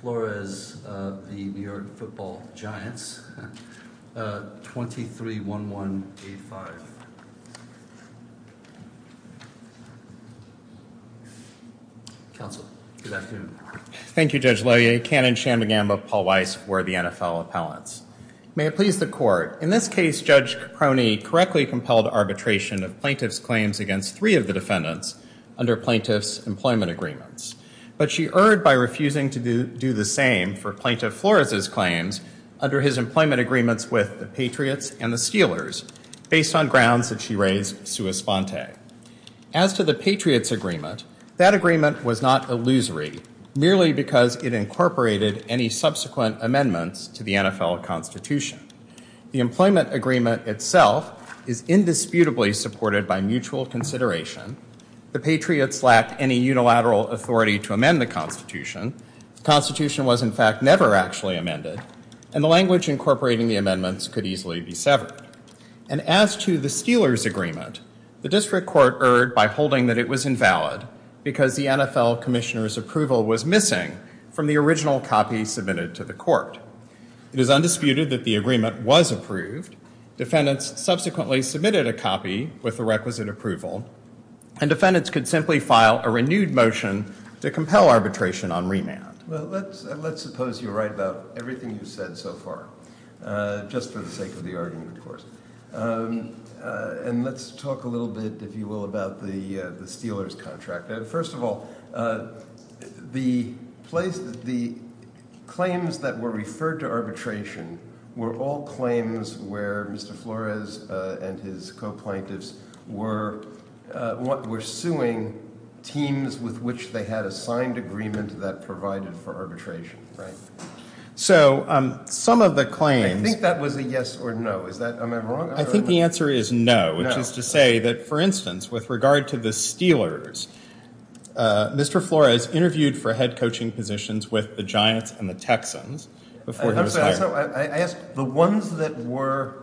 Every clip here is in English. Flores v. New York Football Giants, 23-11-85. Counsel, good afternoon. Thank you, Judge Leahy. Canon Channingham of Paul Weiss for the NFL Appellants. May it please the Court. In this case, Judge Croney correctly compelled arbitration of plaintiffs' claims against three of the defendants under plaintiffs' employment agreements, but she erred by refusing to do the same for Plaintiff Flores' claims under his employment agreements with the Patriots and the Steelers, based on grounds that she raised sua sponte. As to the Patriots' agreement, that agreement was not illusory, merely because it incorporated any subsequent amendments to the NFL Constitution. The employment agreement itself is indisputably supported by mutual consideration. The Patriots lack any unilateral authority to amend the Constitution. The Constitution was, in fact, never actually amended, and the language incorporating the amendments could easily be severed. And as to the Steelers' agreement, the District Court erred by holding that it was invalid because the NFL Commissioner's approval was missing from the original copy submitted to the Court. It is undisputed that the agreement was approved. Defendants subsequently submitted a copy with the requisite approval, and defendants could simply file a renewed motion to compel arbitration on remand. Let's suppose you're right about everything you've said so far, just for the sake of the argument, of course. And let's talk a little bit, if you will, about the Steelers' contract. First of all, the claims that were referred to arbitration were all claims where Mr. Flores and his co-plaintiffs were suing teams with which they had a signed agreement that provided for arbitration. I think that was a yes or no. Am I wrong? I think the answer is no, which is to say that, for instance, with regard to the Steelers, Mr. Flores interviewed for head coaching positions with the Giants and the Texans before he was The ones that were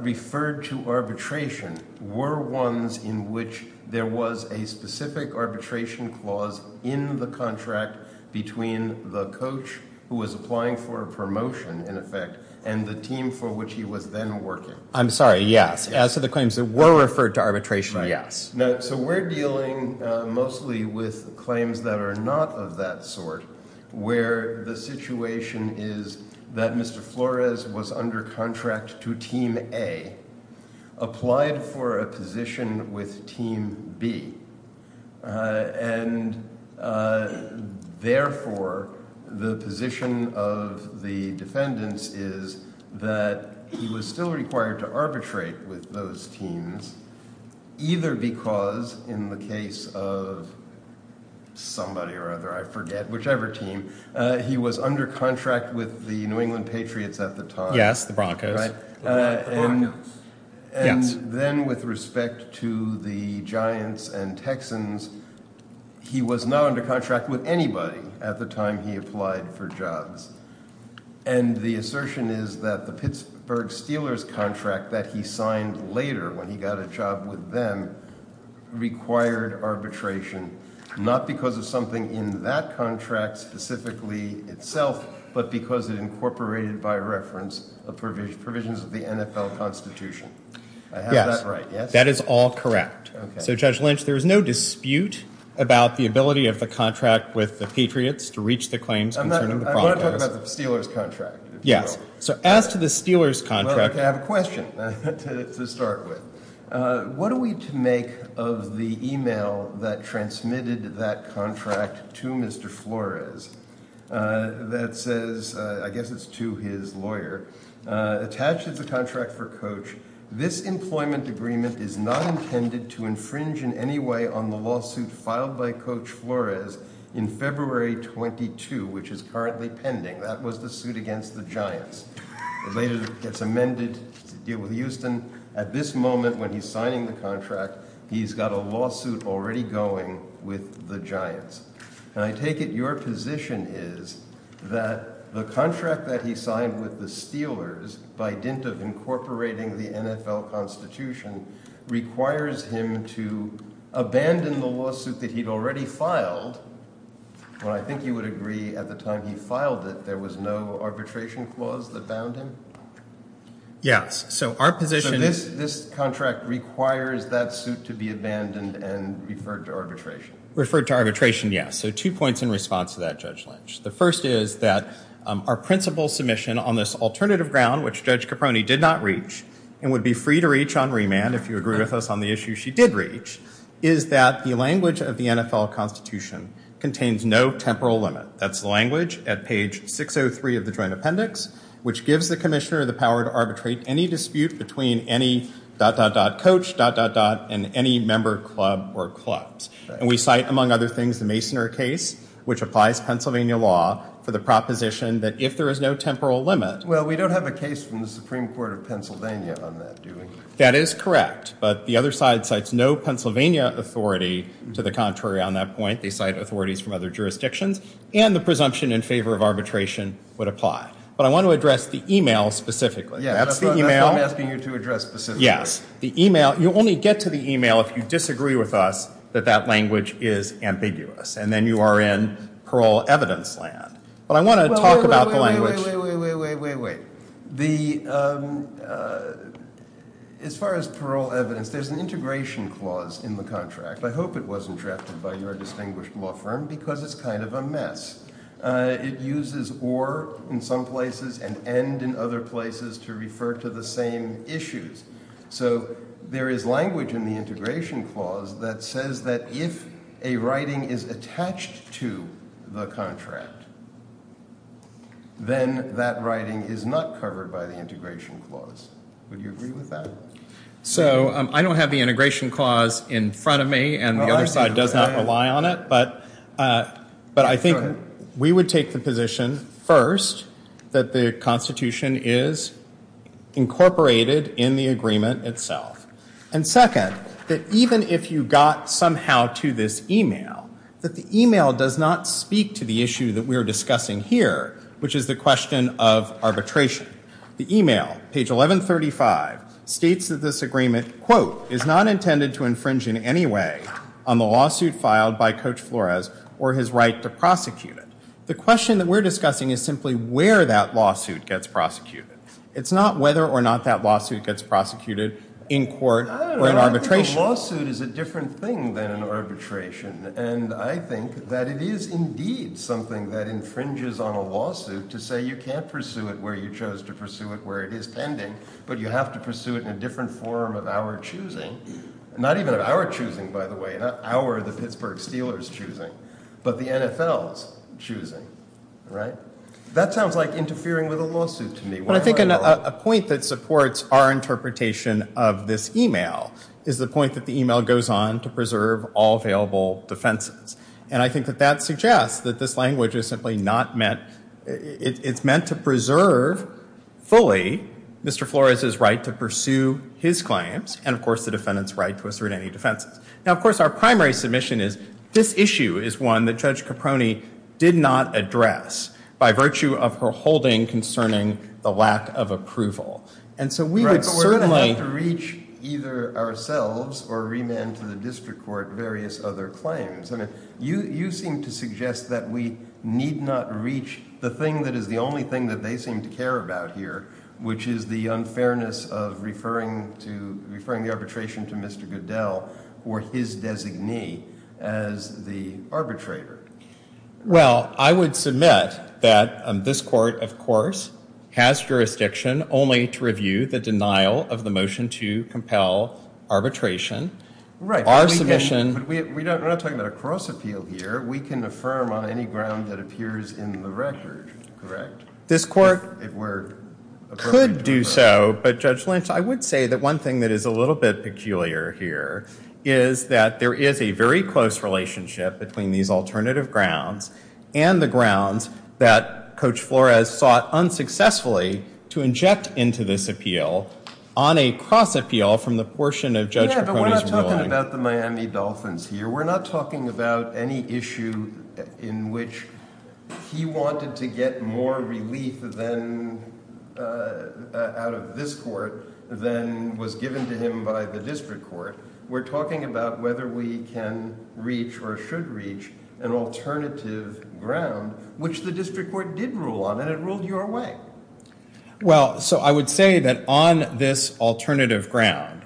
referred to arbitration were ones in which there was a specific arbitration clause in the contract between the coach who was applying for a promotion, in effect, and the team for which he was then working. I'm sorry, yes. So the claims that were referred to arbitration, yes. Now, so we're dealing mostly with claims that are not of that sort, where the situation is that Mr. Flores was under contract to Team A, applied for a position with Team B, and therefore, the position of the defendants is that he was still required to arbitrate with those teams, either because, in the case of somebody or other, I forget, whichever team, he was under contract with the New England Patriots at the time. Yes, the Broncos. And then with respect to the Giants and Texans, he was not under contract with anybody at the time he applied for jobs. And the assertion is that the Pittsburgh Steelers contract that he signed later, when he got a job with them, required arbitration, not because of something in that contract specifically itself, but because it incorporated, by reference, the provisions of the NFL Constitution. Is that right? Yes, that is all correct. So Judge Lynch, there is no dispute about the ability of the contract with the Patriots to reach the claims concerning the Broncos. I want to talk about the Steelers contract. Yes, so as to the Steelers contract... I have a question to start with. What are we to make of the email that transmitted that contract to Mr. Flores that says, I guess it's to his lawyer, attached to the contract for Coach, this employment agreement is not intended to infringe in any way on the lawsuit filed by Coach Flores in February 22, which is currently pending. That was the suit against the Giants. Later, it's amended. Houston, at this moment, when he's signing the contract, he's got a lawsuit already going with the Giants. And I take it your position is that the contract that he signed with the Steelers, by dint of incorporating the NFL Constitution, requires him to abandon the lawsuit that he'd already filed. Well, I think you would agree at the time he filed it, there was no arbitration clause that bound him? Yes. So our position is... So this contract requires that suit to be abandoned and referred to arbitration. Referred to arbitration, yes. So two points in response to that, Judge Lynch. The first is that our principal submission on this alternative ground, which Judge Caproni did not reach, and would be free to reach on remand if you agree with us on the issue she did reach, is that the language of the NFL Constitution contains no temporal limit. That's the language at page 603 of the Joint Appendix, which gives the Commissioner the power to arbitrate any dispute between any...Coach...and any member club or clubs. And we cite, among other things, the Masoner case, which applies Pennsylvania law, for the proposition that if there is no temporal limit... Well, we don't have a case from the Supreme Court of Pennsylvania on that, do we? That is correct. But the other side cites no Pennsylvania authority to the contrary on that point. They cite authorities from other jurisdictions. And the presumption in favor of arbitration would apply. But I want to address the email specifically. Yeah, that's what I'm asking you to address specifically. Yes. The email...you only get to the email if you disagree with us that that language is ambiguous. And then you are in parole evidence land. But I want to talk about the language... Wait, wait, wait, wait, wait, wait, wait. The...as far as parole evidence, there's an integration clause in the contract. I hope it wasn't drafted by your distinguished law firm, because it's kind of a mess. It uses or in some places and end in other places to refer to the same issues. So there is language in the integration clause that says that if a writing is attached to the contract, then that writing is not covered by the integration clause. Would you agree with that? So I don't have the integration clause in front of me, and the other side does not rely on it, but I think we would take the position, first, that the Constitution is incorporated in the agreement itself. And second, that even if you got somehow to this email, that the email does not speak to the issue that we are discussing here, which is the question of arbitration. The email, page 1135, states that this agreement, quote, is not intended to infringe in any way on the lawsuit filed by Coach Flores or his right to prosecute it. The question that we're discussing is simply where that lawsuit gets prosecuted. It's not whether or not that lawsuit gets prosecuted in court or in arbitration. I don't think a lawsuit is a different thing than an arbitration, and I think that it is indeed something that infringes on a lawsuit to say you can't pursue it where you chose to pursue it, where it is pending, but you have to pursue it in a different form of our choosing. Not even our choosing, by the way, not our, the Pittsburgh Steelers, choosing, but the NFL's choosing, right? That sounds like interfering with a lawsuit to me. But I think a point that supports our interpretation of this email is the point that the email goes on to preserve all available defenses, and I think that that suggests that this language is simply not meant, it's meant to preserve fully Mr. Flores' right to pursue his claims, and, of course, the defendant's right to assert any defense. Now, of course, our primary submission is this issue is one that Judge Caproni did not address by virtue of her holding concerning the lack of approval, and so we would certainly Right, but we're going to have to reach either ourselves or remand to the district court various other claims. I mean, you seem to suggest that we need not reach the thing that is the only thing that we seem to care about here, which is the unfairness of referring to, referring the arbitration to Mr. Goodell or his designee as the arbitrator. Well, I would submit that this court, of course, has jurisdiction only to review the denial of the motion to compel arbitration. Right, but we're not talking about a cross-appeal here. We can affirm on any ground that appears in the record, correct? This court could do so, but Judge Lynch, I would say that one thing that is a little bit peculiar here is that there is a very close relationship between these alternative grounds and the grounds that Coach Flores sought unsuccessfully to inject into this appeal on a cross-appeal from the portion of Judge Caproni's ruling. Yeah, but we're not talking about the Miami Dolphins here. We're not talking about any issue in which he wanted to get more relief out of this court than was given to him by the district court. We're talking about whether we can reach or should reach an alternative ground, which the district court did rule on, and it ruled your way. Well, so I would say that on this alternative ground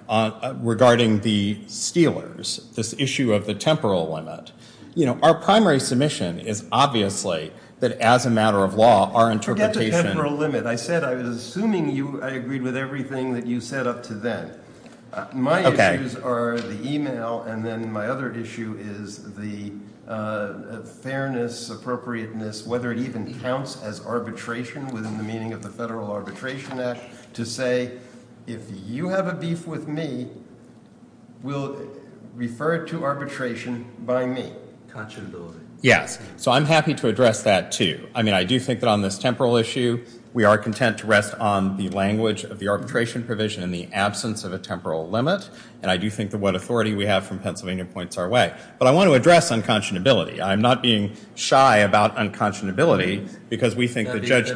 regarding the Steelers, this issue of the temporal limit, our primary submission is obviously that as a matter of law, our interpretation... Forget the temporal limit. I said I was assuming I agreed with everything that you said up to then. My issues are the email, and then my other issue is the fairness, appropriateness, whether it even counts as arbitration within the meaning of the Federal Arbitration Act to say, if you have a beef with me, we'll refer to arbitration by me. Conscionability. Yeah. So I'm happy to address that too. I mean, I do think that on this temporal issue, we are content to rest on the language of the arbitration provision in the absence of a temporal limit, and I do think that what authority we have from Pennsylvania points our way. But I want to address unconscionability. I'm not being shy about unconscionability because we think that Judge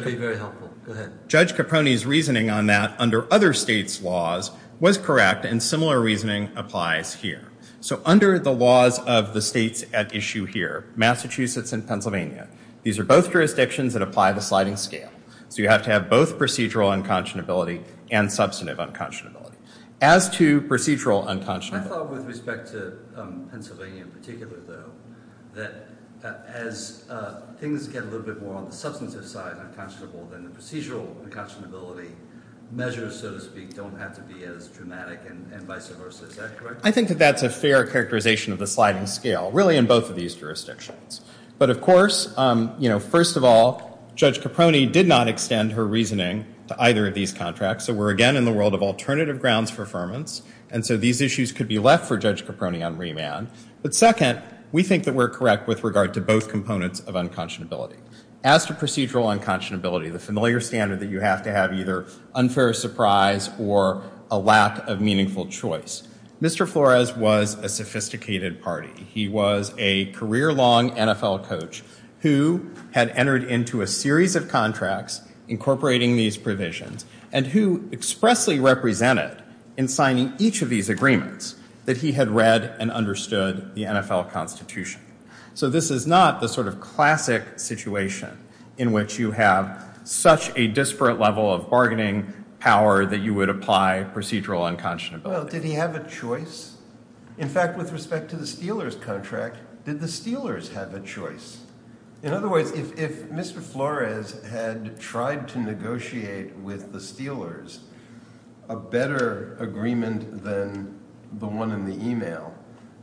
Caproni's reasoning on that under other states' laws was correct, and similar reasoning applies here. So under the laws of the states at issue here, Massachusetts and Pennsylvania, these are both jurisdictions that apply the sliding scale, so you have to have both procedural unconscionability and substantive unconscionability. As to procedural unconscionability... I thought with respect to Pennsylvania in particular, though, that as things get a little bit more on the substantive side, unconscionable, then procedural unconscionability measures, so to speak, don't have to be as dramatic and vice versa. Is that correct? I think that that's a fair characterization of the sliding scale, really in both of these jurisdictions. But, of course, you know, first of all, Judge Caproni did not extend her reasoning to either of these contracts, so we're again in a world of alternative grounds for affirmance, and so these issues could be left for Judge Caproni on remand. But second, we think that we're correct with regard to both components of unconscionability. As to procedural unconscionability, the familiar standard that you have to have either unfair surprise or a lack of meaningful choice, Mr. Flores was a sophisticated party. He was a career-long NFL coach who had entered into a series of contracts incorporating these provisions and who expressly represented in signing each of these agreements that he had read and understood the NFL Constitution. So this is not the sort of classic situation in which you have such a disparate level of bargaining power that you would apply procedural unconscionability. Well, did he have a choice? In fact, with respect to the Steelers contract, did the Steelers have a choice? In other words, if Mr. Flores had tried to negotiate with the Steelers a better agreement than the one in the email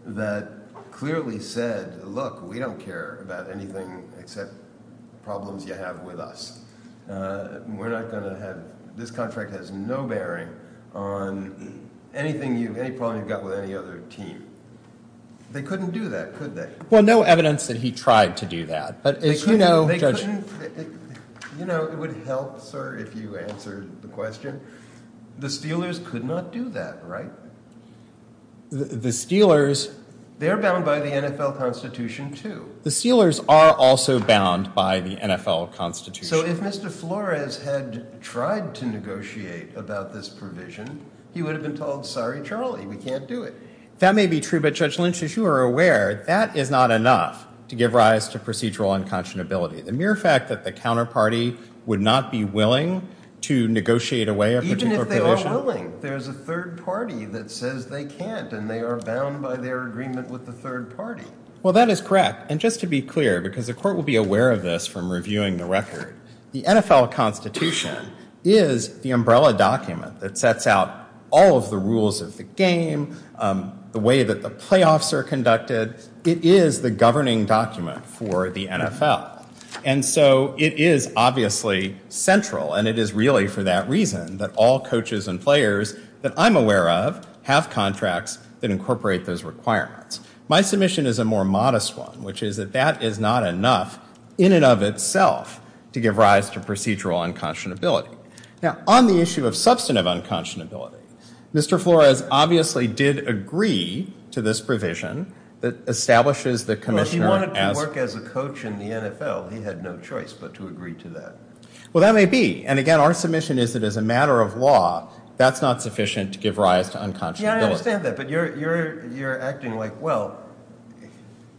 that clearly said, look, we don't care about anything except the problems you have with us. This contract has no bearing on any problem you've got with any other team. They couldn't do that, could they? Well, no evidence that he tried to do that. You know, it would help, sir, if you answered the question. The Steelers could not do that, right? The Steelers... They're bound by the NFL Constitution, too. The Steelers are also bound by the NFL Constitution. So if Mr. Flores had tried to negotiate about this provision, he would have been told, sorry, Charlie, we can't do it. That may be true, but Judge Lynch, as you are aware, that is not enough to give rise to procedural unconscionability. The mere fact that the counterparty would not be willing to negotiate away a particular provision... Even if they are willing, there's a third party that says they can't, and they are bound by their agreement with the third party. Well, that is correct. And just to be clear, because the court will be aware of this from reviewing the record, the NFL Constitution is the umbrella document that sets out all of the rules of the game, the way that the playoffs are conducted. It is the governing document for the NFL. And so it is obviously central, and it is really for that reason that all coaches and players that I'm aware of have contracts that incorporate those requirements. My submission is a more modest one, which is that that is not enough in and of itself to give rise to procedural unconscionability. Now, on the issue of substantive unconscionability, Mr. Flores obviously did agree to this provision that establishes the commission... Well, if he wanted to work as a coach in the NFL, he had no choice but to agree to that. Well, that may be. And again, our submission is that as a matter of law, that's not sufficient to give rise to unconscionability. Yeah, I understand that. But you're acting like, well,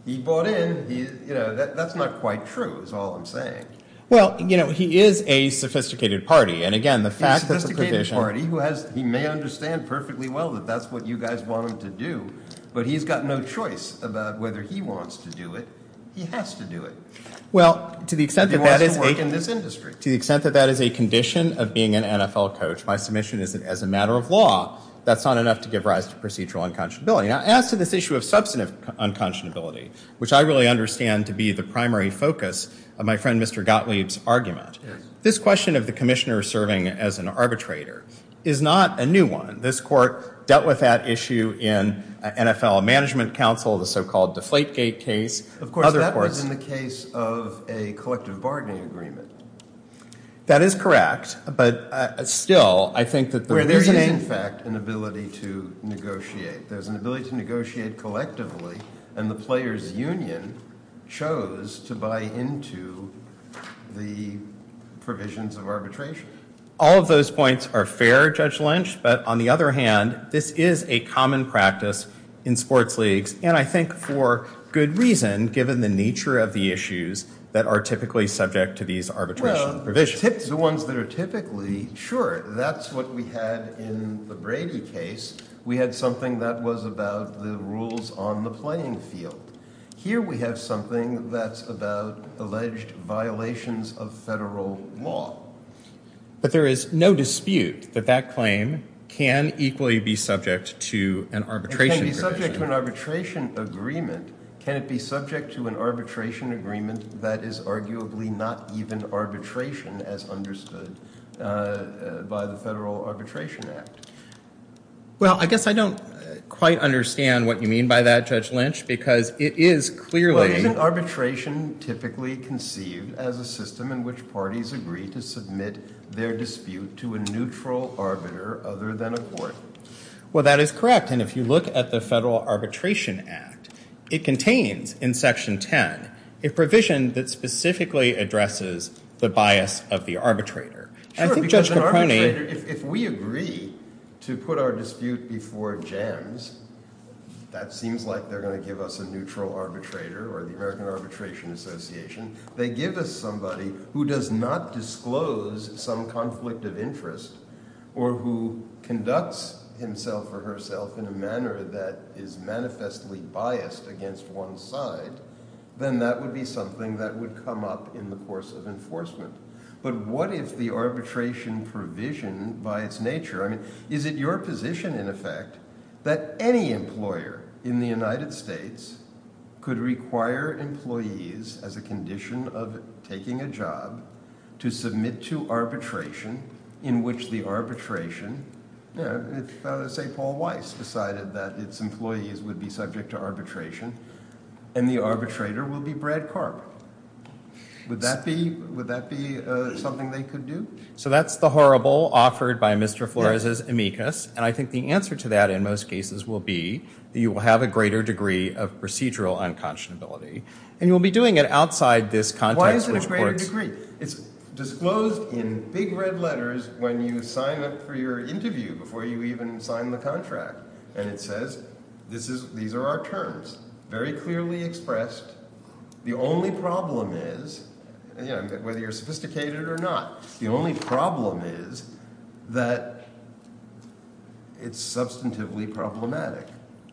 he bought in. That's not quite true, is all I'm saying. Well, he is a sophisticated party. And again, the fact that the provision... He may understand perfectly well that that's what you guys want him to do, but he's got no choice about whether he wants to do it. He has to do it. He wants to work in this industry. Well, to the extent that that is a condition of being an NFL coach, my submission is that as a matter of law, that's not enough to give rise to procedural unconscionability. Now, as to this issue of substantive unconscionability, which I really understand to be the primary focus of my friend Mr. Gottlieb's argument, this question of the commissioner serving as an arbitrator is not a new one. This court dealt with that issue in NFL Management Council, the so-called Deflategate case. Of course, that was in the case of a collective bargaining agreement. That is correct. But still, I think that the provision... Where there's, in fact, an ability to negotiate. There's an ability to negotiate collectively. And the players' union chose to buy into the provisions of arbitration. All of those points are fair, Judge Lynch. But on the other hand, this is a common practice in sports leagues, and I think for good reason, given the nature of the issues that are typically subject to these arbitration provisions. Well, the ones that are typically... Sure, that's what we had in the Brady case. We had something that was about the rules on the playing field. Here we have something that's about alleged violations of federal law. But there is no dispute that that claim can equally be subject to an arbitration provision. It can be subject to an arbitration agreement. Can it be subject to an arbitration agreement that is arguably not even arbitration as understood by the Federal Arbitration Act? Well, I guess I don't quite understand what you mean by that, Judge Lynch, because it is clearly... Arbitration typically conceived as a system in which parties agree to submit their dispute to a neutral arbiter other than a court. Well, that is correct. And if you look at the Federal Arbitration Act, it contains, in Section 10, a provision that specifically addresses the bias of the arbitrator. If we agree to put our dispute before JAMS, that seems like they're going to give us a neutral arbitrator or the American Arbitration Association. They give us somebody who does not disclose some conflict of interest or who conducts himself or herself in a manner that is manifestly biased against one side, then that would be something that would come up in the course of enforcement. But what is the arbitration provision by its nature? I mean, is it your position, in effect, that any employer in the United States could require employees, as a condition of taking a job, to submit to arbitration in which the arbitration... Let's say Paul Weiss decided that its employees would be subject to arbitration and the arbitrator will be Brad Karp. Would that be something they could do? So that's the horrible offered by Mr. Flores' amicus. And I think the answer to that in most cases will be that you will have a greater degree of procedural unconscionability. And you'll be doing it outside this context... Why is it a greater degree? It's disclosed in big red letters when you sign up for your interview before you even sign the contract. And it says, these are our terms, very clearly expressed. The only problem is, whether you're sophisticated or not, the only problem is that it's substantively problematic.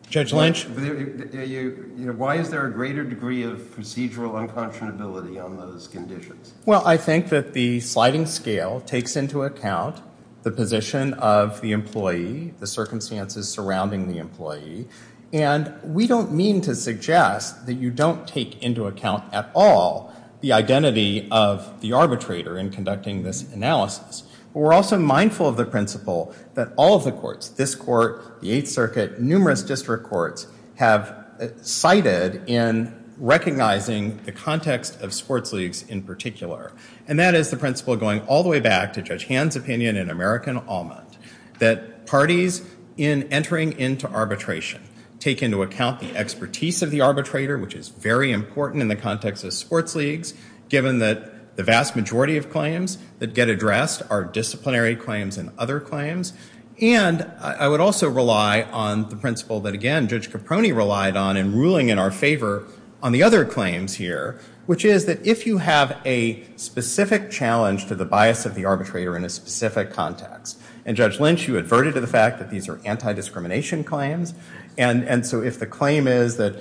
Judge Lynch? Why is there a greater degree of procedural unconscionability on those conditions? Well, I think that the sliding scale takes into account the position of the employee, the circumstances surrounding the employee. And we don't mean to suggest that you don't take into account at all the identity of the arbitrator in conducting this analysis. We're also mindful of the principle that all of the courts, this court, the Eighth Circuit, numerous district courts, have cited in recognizing the context of sports leagues in particular. And that is the principle going all the way back to Judge Hand's opinion in American Almond, that parties in entering into arbitration take into account the expertise of the arbitrator, which is very important in the context of sports leagues, given that the vast majority of claims that get addressed are disciplinary claims and other claims. And I would also rely on the principle that, again, Judge Caproni relied on in ruling in our favor on the other claims here, which is that if you have a specific challenge to the bias of the arbitrator in a specific context, and Judge Lynch, you adverted to the fact that these are anti-discrimination claims, and so if the claim is that,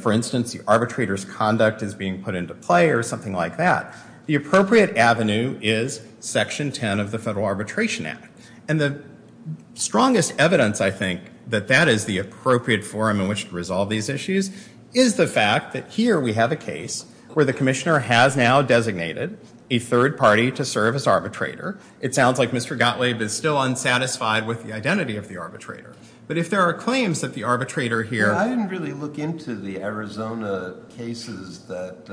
for instance, the arbitrator's conduct is being put into play or something like that, the appropriate avenue is Section 10 of the Federal Arbitration Act. And the strongest evidence, I think, that that is the appropriate forum in which to resolve these issues is the fact that here we have a case where the commissioner has now designated a third party to serve as arbitrator. It sounds like Mr. Gottlieb is still unsatisfied with the identity of the arbitrator. But if there are claims that the arbitrator here... I didn't really look into the Arizona cases that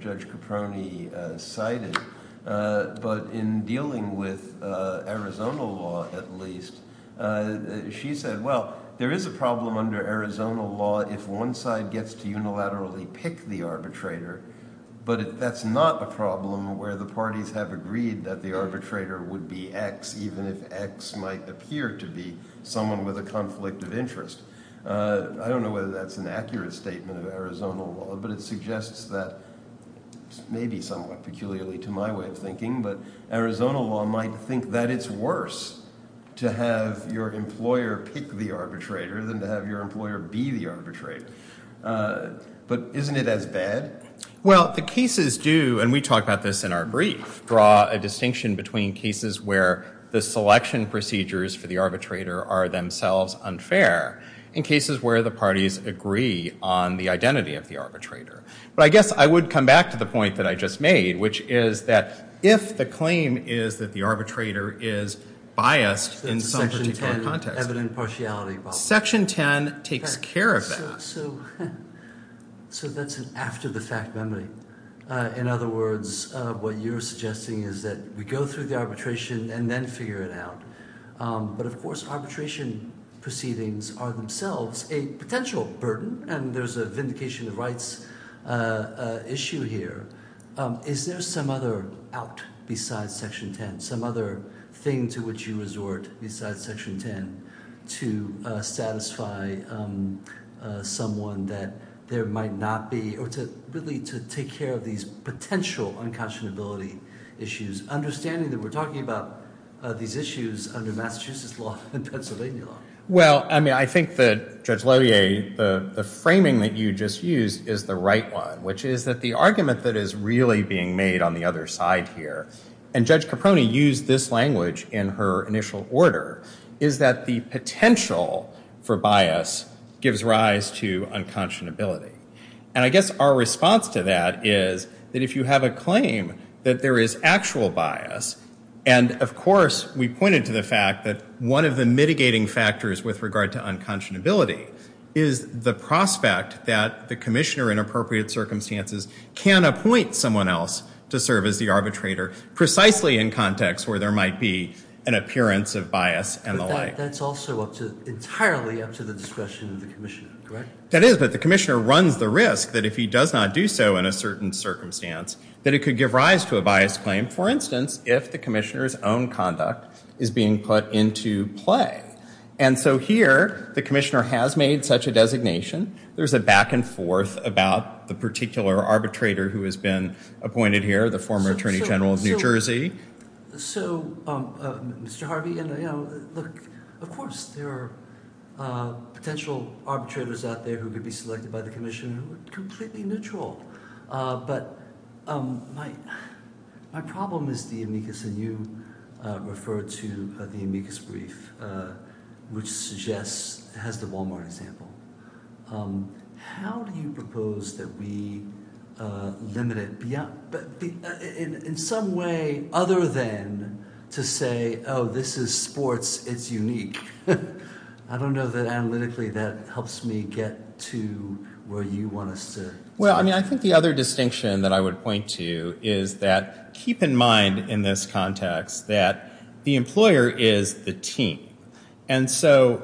Judge Caproni cited, but in dealing with Arizona law, at least, she said, well, there is a problem under Arizona law if one side gets to unilaterally pick the arbitrator, but that's not a problem where the parties have agreed that the arbitrator would be X, even if X might appear to be someone with a conflict of interest. I don't know whether that's an accurate statement of Arizona law, but it suggests that, maybe somewhat peculiarly to my way of thinking, but Arizona law might think that it's worse to have your employer pick the arbitrator than to have your employer be the arbitrator. But isn't it as bad? Well, the cases do, and we talked about this in our brief, draw a distinction between cases where the selection procedures for the arbitrator are themselves unfair in cases where the parties agree on the identity of the arbitrator. But I guess I would come back to the point that I just made, which is that if the claim is that the arbitrator is biased... Section 10, evident partiality problem. Section 10 takes care of that. So that's an after-the-fact remedy. In other words, what you're suggesting is that we go through the arbitration and then figure it out. But, of course, arbitration proceedings are themselves a potential burden, and there's a vindication of rights issue here. Is there some other out besides Section 10, some other thing to which you resort besides Section 10 to satisfy someone that there might not be... or to really take care of these potential unconscionability issues, understanding that we're talking about these issues under Massachusetts law and Pennsylvania law? Well, I mean, I think that, Judge Levier, the framing that you just used is the right one, which is that the argument that is really being made on the other side here, and Judge Caproni used this language in her initial order, is that the potential for bias gives rise to unconscionability. And I guess our response to that is that if you have a claim that there is actual bias, and, of course, we pointed to the fact that one of the mitigating factors with regard to unconscionability is the prospect that the commissioner, in appropriate circumstances, can appoint someone else to serve as the arbitrator, precisely in context where there might be an appearance of bias and the like. But that's also entirely up to the discretion of the commissioner, correct? That is, but the commissioner runs the risk that if he does not do so in a certain circumstance, that it could give rise to a biased claim, for instance, if the commissioner's own conduct is being put into play. And so here, the commissioner has made such a designation. There's a back and forth about the particular arbitrator who has been appointed here, the former attorney general of New Jersey. So, Mr. Harvey, you know, look, of course, there are potential arbitrators out there who could be selected by the commission who are completely neutral. But my problem is the amicus, and you referred to the amicus brief, which suggests, has the Walmart example. How do you propose that we limit it in some way other than to say, oh, this is sports, it's unique? I don't know that analytically that helps me get to where you want us to. Well, I mean, I think the other distinction that I would point to is that keep in mind in this context that the employer is the team. And so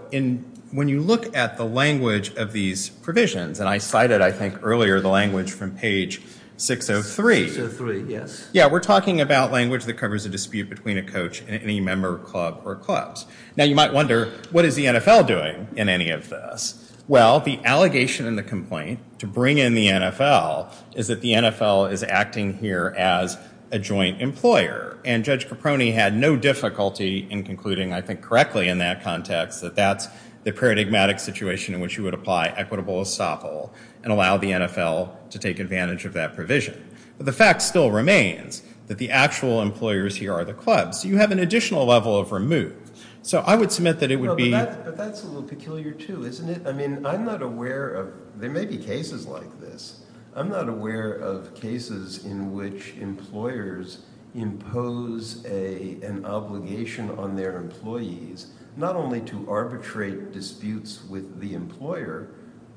when you look at the language of these provisions, and I cited, I think, earlier the language from page 603. Yeah, we're talking about language that covers a dispute between a coach and any member of a club or clubs. Now, you might wonder, what is the NFL doing in any of this? Well, the allegation in the complaint to bring in the NFL is that the NFL is acting here as a joint employer. And Judge Paproni had no difficulty in concluding, I think, correctly in that context that that's the paradigmatic situation in which you would apply equitable essential and allow the NFL to take advantage of that provision. But the fact still remains that the actual employers here are the clubs. You have an additional level of removal. So I would submit that it would be... But that's a little peculiar too, isn't it? I mean, I'm not aware of, there may be cases like this. I'm not aware of cases in which employers impose an obligation on their employees not only to arbitrate disputes with the employer,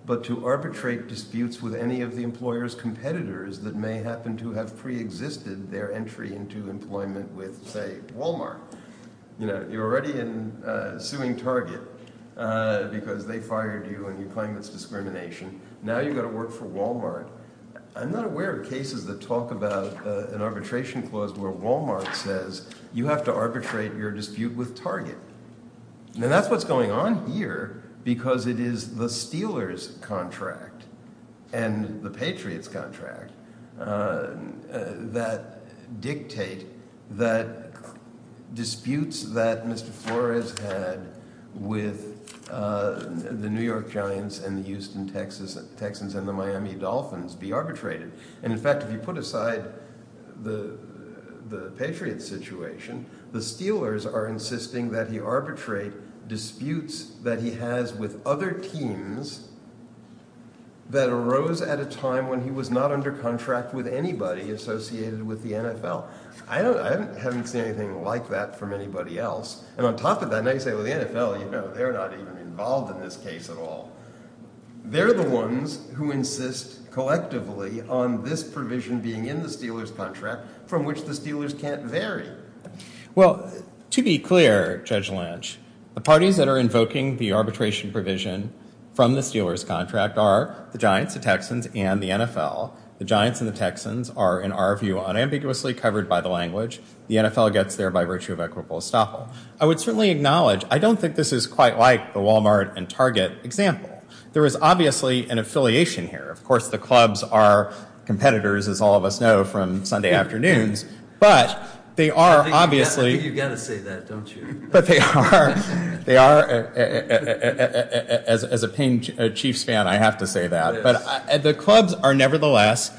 but to arbitrate disputes with any of the employer's competitors that may happen to have preexisted their entry into employment with, say, Walmart. You know, you're already suing Target because they fired you and you claim it's discrimination. Now you've got to work for Walmart. I'm not aware of cases that talk about an arbitration clause where Walmart says you have to arbitrate your dispute with Target. And that's what's going on here because it is the Steelers contract and the Patriots contract that dictate that disputes that Mr. Flores had with the New York Giants and the Houston Texans and the Miami Dolphins be arbitrated. And in fact, if you put aside the Patriots situation, the Steelers are insisting that he arbitrate disputes that he has with other teams that arose at a time when he was not under contract with anybody associated with the NFL. I haven't seen anything like that from anybody else. And on top of that, now you say, well, the NFL, you know, they're not even involved in this case at all. They're the ones who insist collectively on this provision being in the Steelers contract from which the Steelers can't vary it. Well, to be clear, Judge Lange, the parties that are invoking the arbitration provision from the Steelers contract are the Giants, the Texans, and the NFL. The Giants and the Texans are, in our view, unambiguously covered by the language the NFL gets there by virtue of equitable estoppel. I would certainly acknowledge, I don't think this is quite like the Walmart and Target example. There is obviously an affiliation here. Of course, the clubs are competitors, as all of us know, from Sunday afternoons, but they are obviously... You've got to say that, don't you? But they are. They are. As a pained chief stan, I have to say that. But the clubs are nevertheless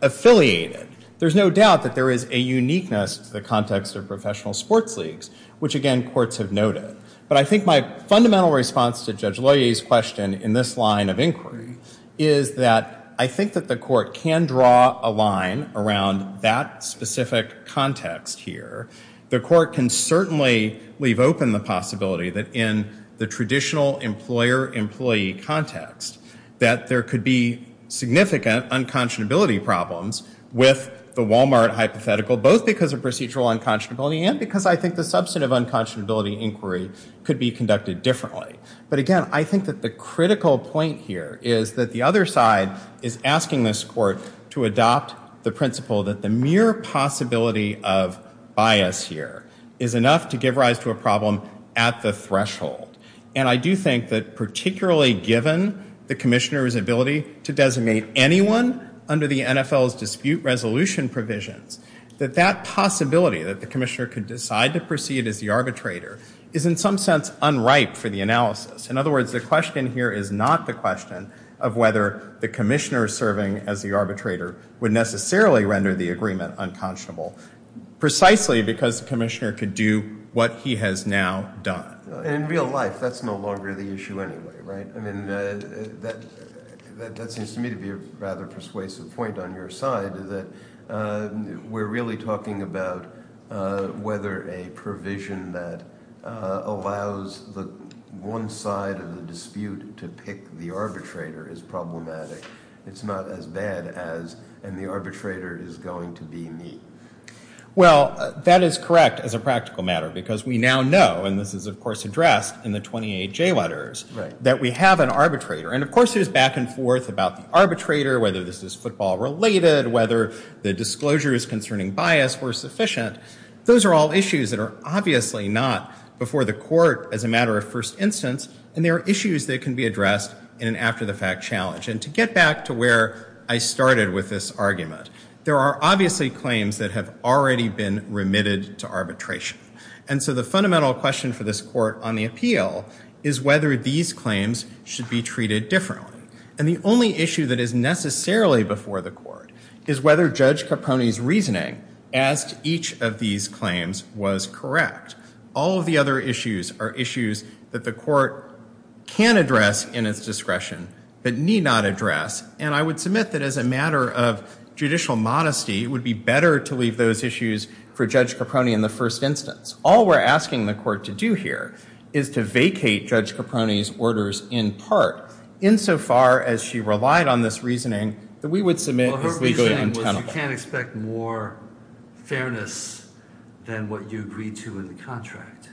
affiliated. There's no doubt that there is a uniqueness in the context of professional sports leagues, which, again, courts have noted. But I think my fundamental response to Judge Loyer's question in this line of inquiry is that I think that the court can draw a line around that specific context here. The court can certainly leave open the possibility that in the traditional employer-employee context that there could be significant unconscionability problems with the Walmart hypothetical, both because of procedural unconscionability and because I think the substantive unconscionability inquiry could be conducted differently. But again, I think that the critical point here is that the other side is asking this court to adopt the principle that the mere possibility of bias here is enough to give rise to a problem at the threshold. And I do think that particularly given the commissioner's ability to designate anyone under the NFL's dispute resolution provisions, that that possibility, that the commissioner could decide to proceed as the arbitrator, is in some sense unripe for the analysis. In other words, the question here is not the question of whether the commissioner serving as the arbitrator would necessarily render the agreement unconscionable, precisely because the commissioner could do what he has now done. In real life, that's no longer the issue anyway, right? I mean, that seems to me to be a rather persuasive point on your side, that we're really talking about whether a provision that allows the one side of the dispute to pick the arbitrator is problematic. It's not as bad as, and the arbitrator is going to be me. Well, that is correct as a practical matter, because we now know, and this is of course addressed in the 28J letters, that we have an arbitrator. And of course it is back and forth about the arbitrator, whether this is football related, whether the disclosures concerning bias were sufficient. Those are all issues that are obviously not before the court as a matter of first instance, and they are issues that can be addressed in an after-the-fact challenge. And to get back to where I started with this argument, there are obviously claims that have already been remitted to arbitration. And so the fundamental question for this court on the appeal is whether these claims should be treated differently. And the only issue that is necessarily before the court is whether Judge Capone's reasoning as to each of these claims was correct. All of the other issues are issues that the court can address in its discretion, but need not address. And I would submit that as a matter of judicial modesty, it would be better to leave those issues for Judge Capone in the first instance. All we're asking the court to do here is to vacate Judge Capone's orders in part, insofar as she relied on this reasoning, that we would submit the legal intent of it. Well, her reasoning was you can't expect more fairness than what you agreed to in the contract.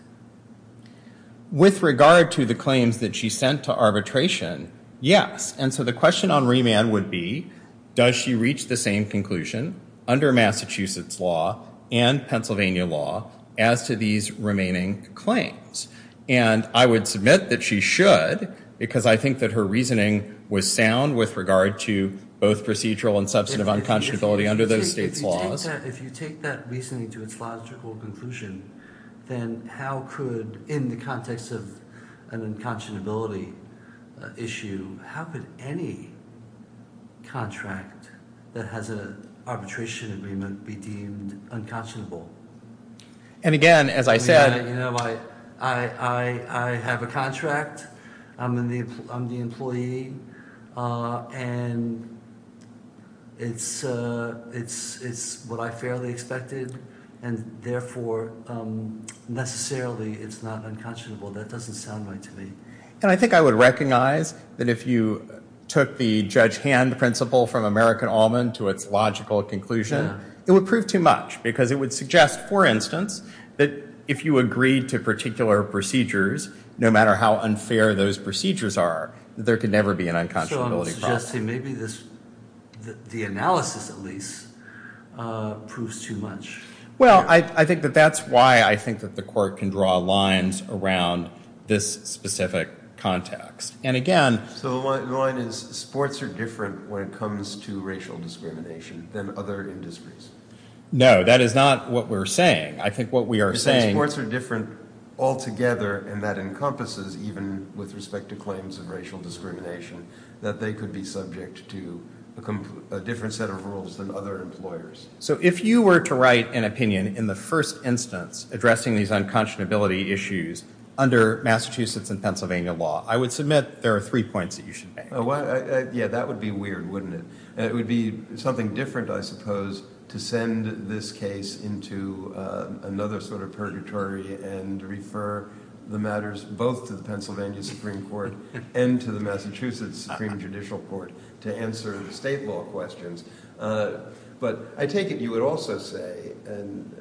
With regard to the claims that she sent to arbitration, yes. And so the question on remand would be, does she reach the same conclusion under Massachusetts law and Pennsylvania law as to these remaining claims? And I would submit that she should, because I think that her reasoning was sound with regard to both procedural and substantive unconscionability under those state laws. If you take that reasoning to a philosophical conclusion, then how could, in the context of an unconscionability issue, how could any contract that has an arbitration agreement be deemed unconscionable? And again, as I said... I have a contract. I'm the employee. And it's what I fairly expected. And therefore, necessarily, it's not unconscionable. That doesn't sound right to me. And I think I would recognize that if you took the judge-hand principle from American Almond to its logical conclusion, it would prove too much. Because it would suggest, for instance, that if you agreed to particular procedures, no matter how unfair those procedures are, there could never be an unconscionability. So I'm suggesting maybe the analysis, at least, proves too much. Well, I think that that's why I think that the court can draw lines around this specific context. So the line is sports are different when it comes to racial discrimination than other industries. No, that is not what we're saying. I think what we are saying... Sports are different altogether, and that encompasses, even with respect to claims of racial discrimination, that they could be subject to a different set of rules than other employers. So if you were to write an opinion in the first instance addressing these unconscionability issues under Massachusetts and Pennsylvania law, I would submit that there are three points that you should... Yeah, that would be weird, wouldn't it? And it would be something different, I suppose, to send this case into another sort of purgatory and refer the matters both to the Pennsylvania Supreme Court and to the Massachusetts Supreme Judicial Court to answer state law questions. But I take it you would also say, and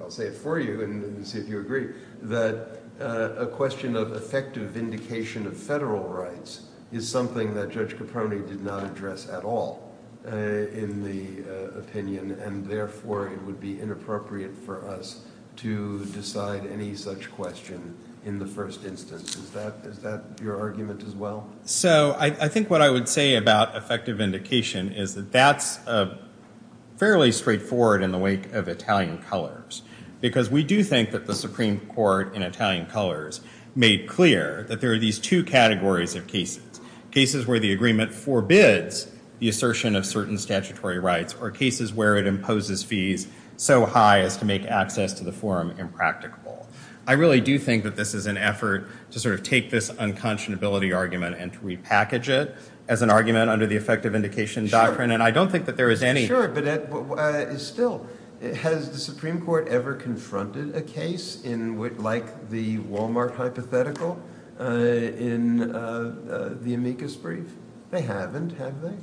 I'll say it for you and see if you agree, that a question of effective vindication of federal rights is something that Judge Caprone did not address at all in the opinion, and therefore it would be inappropriate for us to decide any such question in the first instance. Is that your argument as well? So I think what I would say about effective vindication is that that's fairly straightforward in the wake of Italian colors, because we do think that the Supreme Court in Italian colors made clear that there are these two categories of cases, cases where the agreement forbids the assertion of certain statutory rights or cases where it imposes fees so high as to make access to the forum impractical. I really do think that this is an effort to sort of take this unconscionability argument and repackage it as an argument under the effective vindication doctrine, and I don't think that there is any... Still, has the Supreme Court ever confronted a case like the Walmart hypothetical in the amicus brief? They haven't, have they?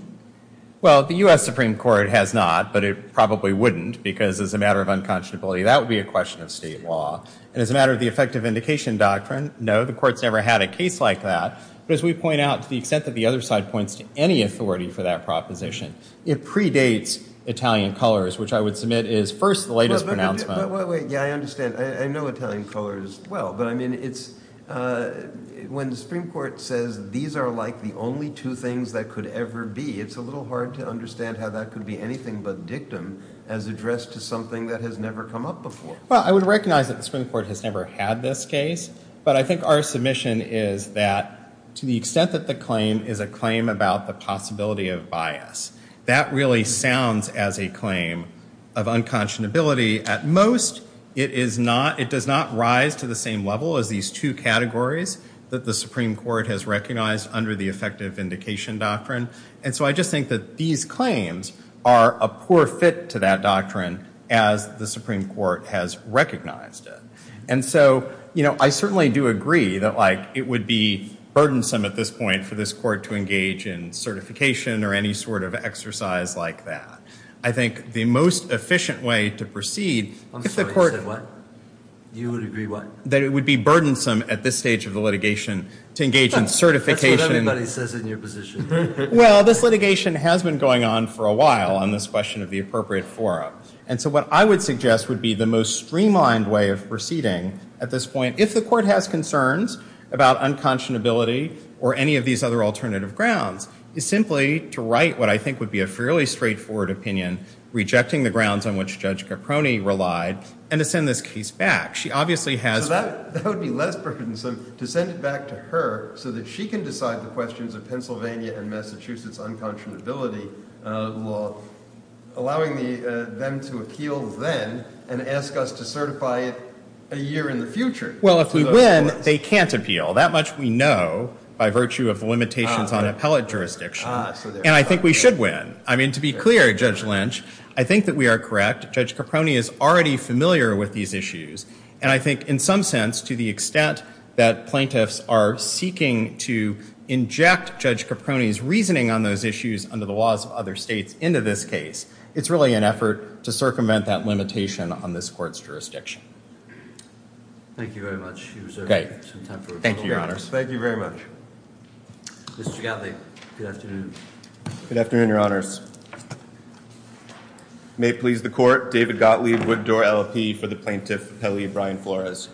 Well, the U.S. Supreme Court has not, but it probably wouldn't because it's a matter of unconscionability. That would be a question of state law. As a matter of the effective vindication doctrine, no, the Court's never had a case like that, but as we point out, to the extent that the other side points to any authority for that proposition, it predates Italian colors, which I would submit is, first, the latest pronouncement... But wait, yeah, I understand. I know Italian colors well, but I mean, it's... When the Supreme Court says these are like the only two things that could ever be, it's a little hard to understand how that could be anything but dictum as addressed to something that has never come up before. Well, I would recognize that the Supreme Court has never had this case, but I think our submission is that, to the extent that the claim is a claim about the possibility of bias, that really sounds as a claim of unconscionability. At most, it is not... It does not rise to the same level as these two categories that the Supreme Court has recognized under the effective vindication doctrine. And so I just think that these claims are a poor fit to that doctrine as the Supreme Court has recognized it. And so, you know, I certainly do agree that, like, it would be burdensome at this point for this Court to engage in certification or any sort of exercise like that. I think the most efficient way to proceed... I'm sorry, you said what? You would agree what? That it would be burdensome at this stage of the litigation to engage in certification... That's what everybody says in your position. Well, this litigation has been going on for a while on this question of the appropriate forum. And so what I would suggest would be the most streamlined way of proceeding at this point, if the Court has concerns about unconscionability or any of these other alternative grounds, is simply to write what I think would be a fairly straightforward opinion rejecting the grounds on which Judge Caproni relied and to send this case back. She obviously has... That would be less burdensome to send it back to her so that she can decide the questions of Pennsylvania and Massachusetts unconscionability law, allowing them to appeal then and ask us to certify it a year in the future. Well, if we win, they can't appeal. That much we know by virtue of limitations on appellate jurisdiction. And I think we should win. I mean, to be clear, Judge Lynch, I think that we are correct. Judge Caproni is already familiar with these issues. And I think in some sense, to the extent that plaintiffs are seeking to inject Judge Caproni's reasoning on those issues under the laws of other states into this case, it's really an effort to circumvent that limitation on this Court's jurisdiction. Thank you very much. Thank you, Your Honor. Thank you very much. Mr. Gottlieb, good afternoon. Good afternoon, Your Honors. May it please the Court, David Gottlieb, Woodrow LLP for the Plaintiffs Appellee, Brian Flores.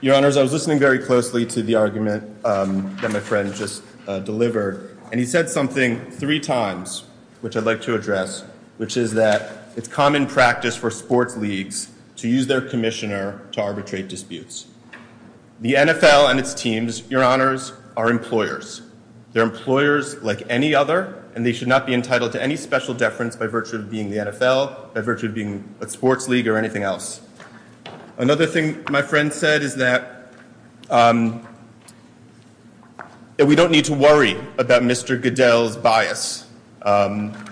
Your Honors, I was listening very closely to the argument that my friend just delivered. And he said something three times, which I'd like to address, which is that it's common practice for sport leagues to use their commissioner to arbitrate disputes. The NFL and its teams, Your Honors, are employers. They're employers like any other, and they should not be entitled to any special deference by virtue of being the NFL, by virtue of being a sports league or anything else. Another thing my friend said is that we don't need to worry about Mr. Goodell's bias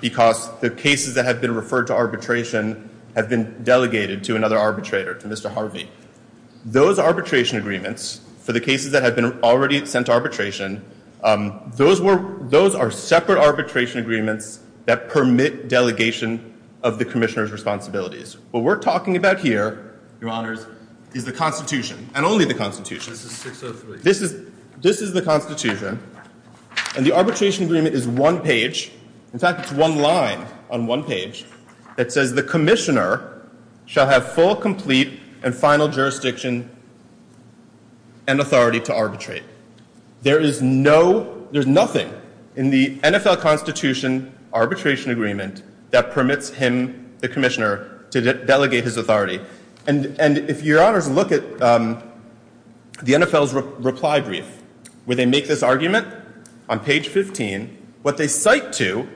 because the cases that have been referred to arbitration have been delegated to another arbitrator, to Mr. Harvey. Those arbitration agreements, for the cases that have been already sent to arbitration, those are separate arbitration agreements that permit delegation of the commissioner's responsibilities. What we're talking about here, Your Honors, is the Constitution, and only the Constitution. This is the Constitution. And the arbitration agreement is one page. In fact, it's one line on one page that says the commissioner shall have full, complete, and final jurisdiction and authority to arbitrate. There is no, there's nothing in the NFL Constitution arbitration agreement that permits him, the commissioner, to delegate his authority. And if Your Honors look at the NFL's reply brief, where they make this argument on page 15, what they cite to,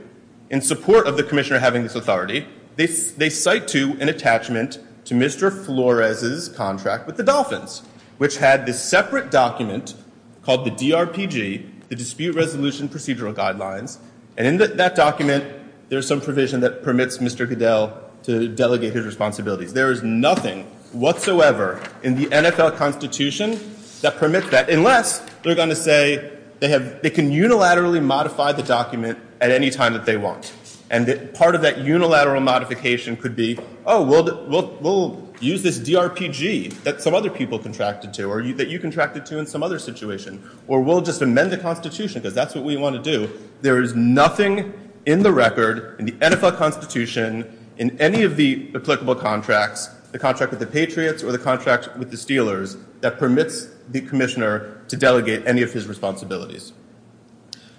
in support of the commissioner having this authority, they cite to an attachment to Mr. Flores' contract with the Dolphins, which had this separate document called the DRPG, the Dispute Resolution Procedural Guidelines, and in that document, there's some provision that permits Mr. Goodell to delegate his responsibility. There is nothing whatsoever in the NFL Constitution that permits that, unless they're going to say they can unilaterally modify the document at any time that they want. And part of that unilateral modification could be, oh, we'll use this DRPG that some other people contracted to, or that you contracted to in some other situation, or we'll just amend the Constitution, because that's what we want to do. There is nothing in the record, in the NFL Constitution, in any of the applicable contracts, the contract with the Patriots, or the contract with the Steelers, that permits the commissioner to delegate any of his responsibilities.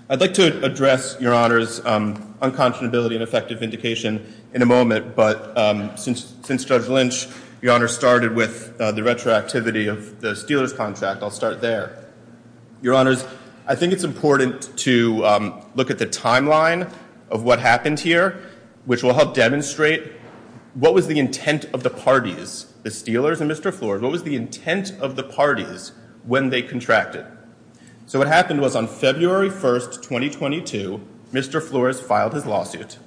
I'd like to address, Your Honors, unconscionability and effective vindication in a moment, but since Judge Lynch, Your Honors started with the retroactivity of the Steelers contract, I'll start there. Your Honors, I think it's important to look at the timeline of what happened here, which will help demonstrate what was the intent of the parties, the Steelers and Mr. Floyd. What was the intent of the parties when they contracted? So what happened was on February 1st, 2022, Mr. Flores filed his lawsuit.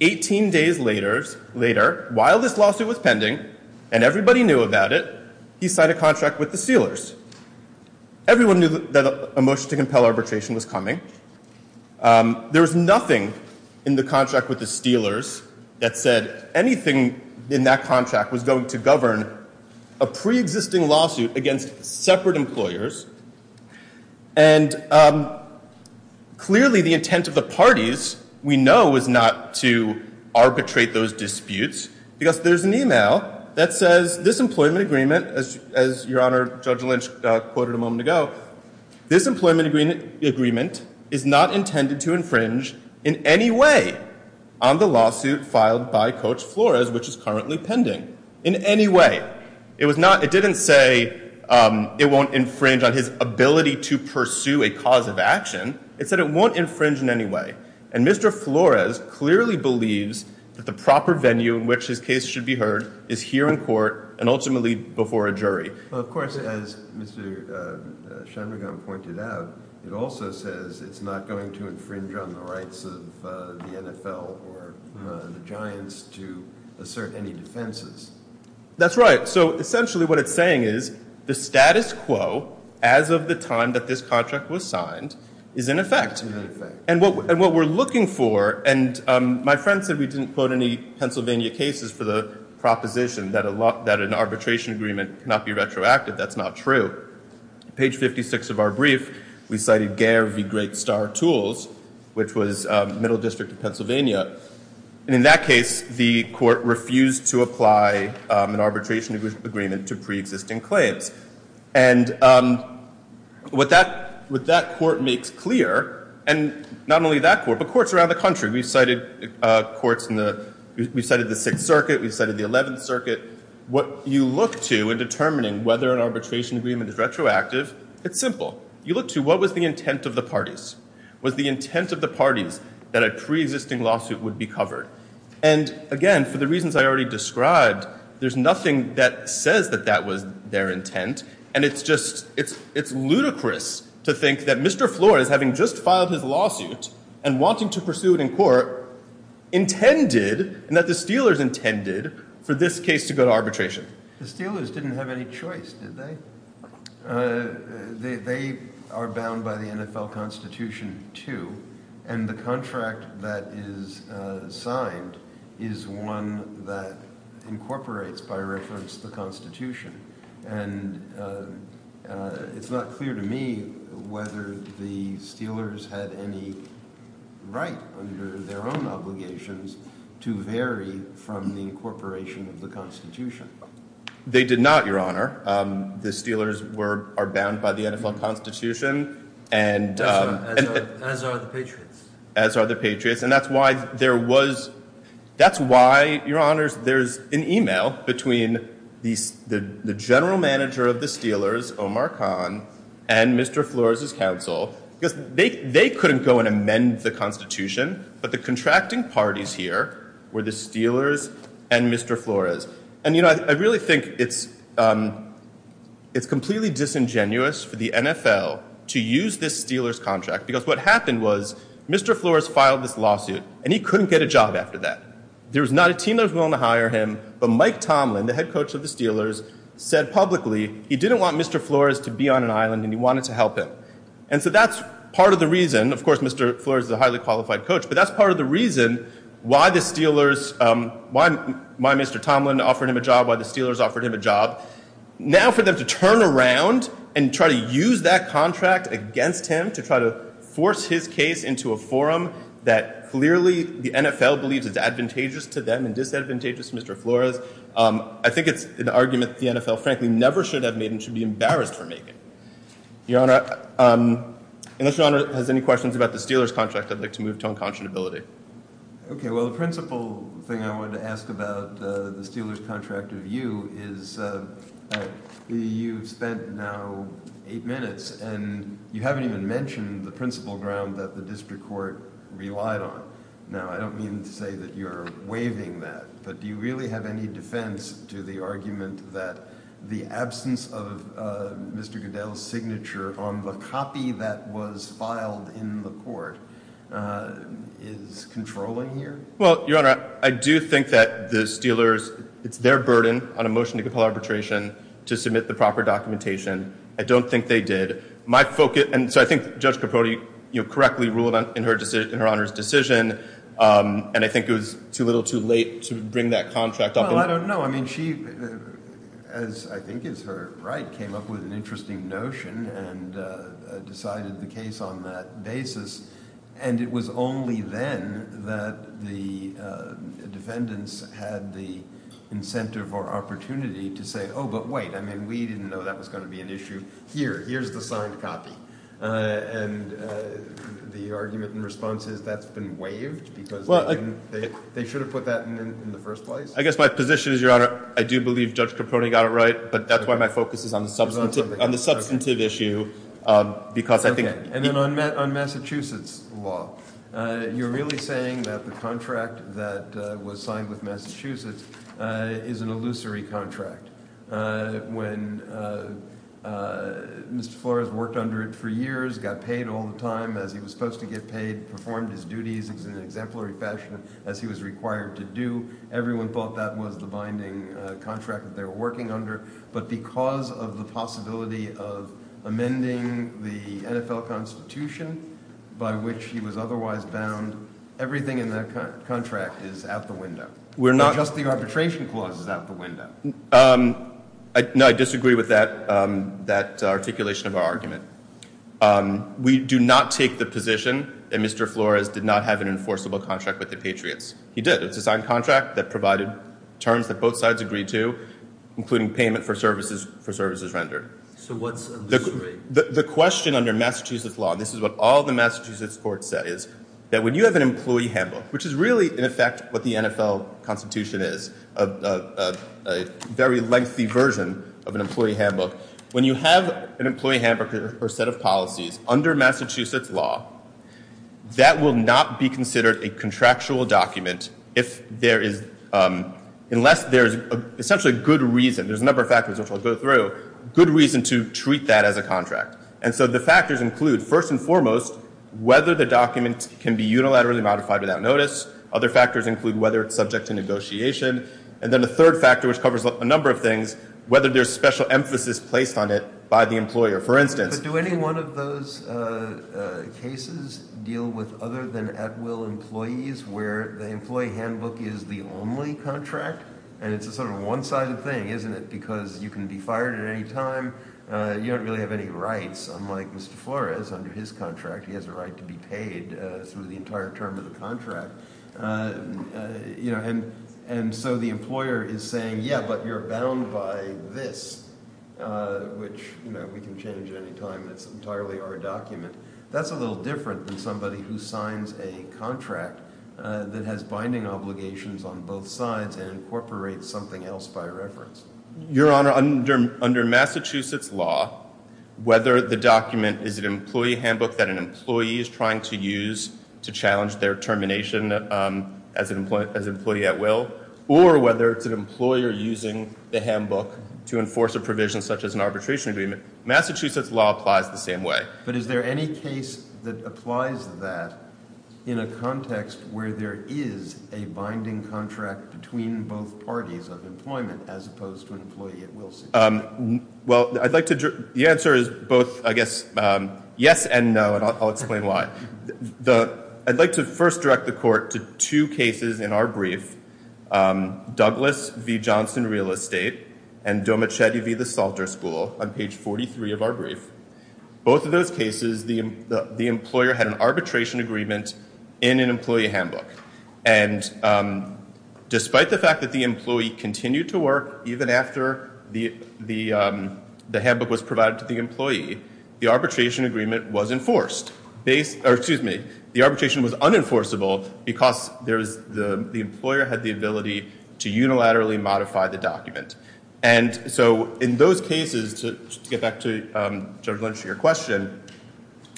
18 days later, while this lawsuit was pending, and everybody knew about it, he signed a contract with the Steelers. Everyone knew that a motion to compel arbitration was coming. There was nothing in the contract with the Steelers that said anything in that contract was going to govern a preexisting lawsuit against separate employers. And clearly, the intent of the parties, we know, is not to arbitrate those disputes because there's an email that says this employment agreement, as Your Honor, Judge Lynch quoted a moment ago, this employment agreement is not intended to infringe in any way on the lawsuit filed by Coach Flores, which is currently pending, in any way. It didn't say it won't infringe on his ability to pursue a cause of action. It said it won't infringe in any way. And Mr. Flores clearly believes that the proper venue in which his case should be heard is here in court and ultimately before a jury. Of course, as Mr. Shanmugam pointed out, it also says it's not going to infringe on the rights of the NFL or the Giants to assert any defenses. That's right. So essentially what it's saying is the status quo as of the time that this contract was signed is in effect. And what we're looking for, and my friend said we didn't quote any Pennsylvania cases for the proposition that an arbitration agreement cannot be retroactive. That's not true. Page 56 of our brief, we cited Gare v. Great Star Tools, which was Middle District of Pennsylvania. And in that case, the court refused to apply an arbitration agreement to pre-existing claims. And what that court makes clear, and not only that court, but courts around the country. We cited courts in the, we cited the Sixth Circuit, we cited the Eleventh Circuit. What you look to in determining whether an arbitration agreement is retroactive, it's simple. You look to what was the intent of the parties? Was the intent of the parties that a pre-existing lawsuit would be covered? And again, for the reasons I already described, there's nothing that says that that was their intent. And it's just, it's ludicrous to think that Mr. Flores having just filed his lawsuit and wanting to pursue it in court intended, and that the Steelers intended for this case to go to arbitration. The Steelers didn't have any choice, did they? They are bound by the NFL Constitution too. And the contract that is signed is one that incorporates, by reference, the Constitution. And it's not clear to me whether the Steelers had any right under their own obligations to vary from the incorporation of the Constitution. They did not, Your Honor. The Steelers were, are bound by the NFL Constitution. As are the Patriots. As are the Patriots. And that's why there was, that's why, Your Honor, there's an email between the general manager of the Steelers, Omar Khan, and Mr. Flores' counsel. They couldn't go and amend the Constitution, but the contracting parties here were the Steelers and Mr. Flores. And I really think it's completely disingenuous for the NFL to use this Steelers contract because what happened was Mr. Flores filed this lawsuit and he couldn't get a job after that. There was not a team that was willing to hire him, but Mike Tomlin, the head coach of the Steelers, said publicly he didn't want Mr. Flores to be on an island and he wanted to help him. And so that's part of the reason, of course Mr. Flores is a highly qualified coach, but that's part of the reason why the Steelers, why Mr. Tomlin offered him a job, why the Steelers offered him a job. Now for them to turn around and try to use that contract against him to try to force his case into a forum that clearly the NFL believes is advantageous to them and disadvantageous to Mr. Flores, I think it's an argument the NFL frankly never should have made and should be embarrassed for making. Your Honor, unless Your Honor has any questions about the Steelers' contract I'd like to move to unconscionability. Okay, well the principal thing I wanted to ask about the Steelers' contract review is you've spent now eight minutes and you haven't even mentioned the principal ground that the district court relied on. Now I don't mean to say that you're waiving that, but do you really have any defense to the argument that the absence of Mr. Goodell's signature on the copy that was filed in the court is controlling here? Well, Your Honor, I do think that the Steelers, it's their burden on a motion to compel arbitration to submit the proper documentation. I don't think they did. So I think Judge Capote correctly ruled in her Honor's decision and I think it was too little too late to bring that contract up. No, I mean she, as I think is her right, came up with an interesting notion and decided the case on that basis and it was only then that the defendants had the incentive or opportunity to say, oh, but wait, we didn't know that was going to be an issue. Here, here's the signed copy. And the argument in response is that's been waived because they should have put that in the first place. I guess my position is, Your Honor, I do believe Judge Capote got it right, but that's why my focus is on the substantive issue. And then on Massachusetts law, you're really saying that the contract that was signed with Massachusetts is an illusory contract. When Ms. Flores worked under it for years, got paid all the time as he was supposed to get paid, performed his duties in an exemplary fashion as he was required to do, everyone thought that was the binding contract that they were working under, but because of the possibility of amending the NFL Constitution by which he was otherwise bound, everything in that contract is out the window. Just the arbitration clause is out the window. No, I disagree with that articulation of our argument. We do not take the position that Mr. Flores did not have an enforceable contract with the Patriots. He did. It was a signed contract that provided terms that both sides agreed to, including payment for services rendered. So what's illusory? The question under Massachusetts law, this is what all the Massachusetts courts say, is that when you have an employee handbook, which is really, in effect, what the NFL Constitution is, a very lengthy version of an employee handbook, when you have an employee handbook or set of policies under Massachusetts law, that will not be considered a contractual document unless there is essentially a good reason. There's a number of factors which I'll go through. Good reason to treat that as a contract. And so the factors include, first and foremost, whether the document can be unilaterally modified without notice. Other factors include whether it's subject to negotiation. And then the third factor, which covers a number of things, whether there's special emphasis placed on it by the employer. For instance... But do any one of those cases deal with other-than-at-will employees where the employee handbook is the only contract? And it's a sort of one-sided thing, isn't it? Because you can be fired at any time. You don't really have any rights, unlike Mr. Flores under his contract. He has a right to be paid through the entire term of the contract. And so the employer is saying, yeah, but you're bound by this, which we can change at any time. That's entirely our document. That's a little different than somebody who signs a contract that has binding obligations on both sides and incorporates something else by reference. Your Honor, under Massachusetts law, whether the document is an employee handbook that an employee is trying to use to challenge their termination as an employee at will, or whether it's an employer using the handbook to enforce a provision such as an arbitration agreement, Massachusetts law applies the same way. But is there any case that applies that in a context where there is a binding contract between both parties of employment as opposed to an employee at will? Well, I'd like to... The answer is both, I guess, yes and no, and I'll explain why. I'd like to first direct the court to two cases in our brief, Douglas v. Johnson Real Estate and Domichetti v. The Soldier School on page 43 of our brief. Both of those cases, the employer had an arbitration agreement in an employee handbook. And despite the fact that the employee continued to work even after the handbook was provided to the employee, the arbitration agreement was enforced. Excuse me, the arbitration was unenforceable because the employer had the ability to unilaterally modify the document. And so in those cases, to get back to Judge Lynch and your question,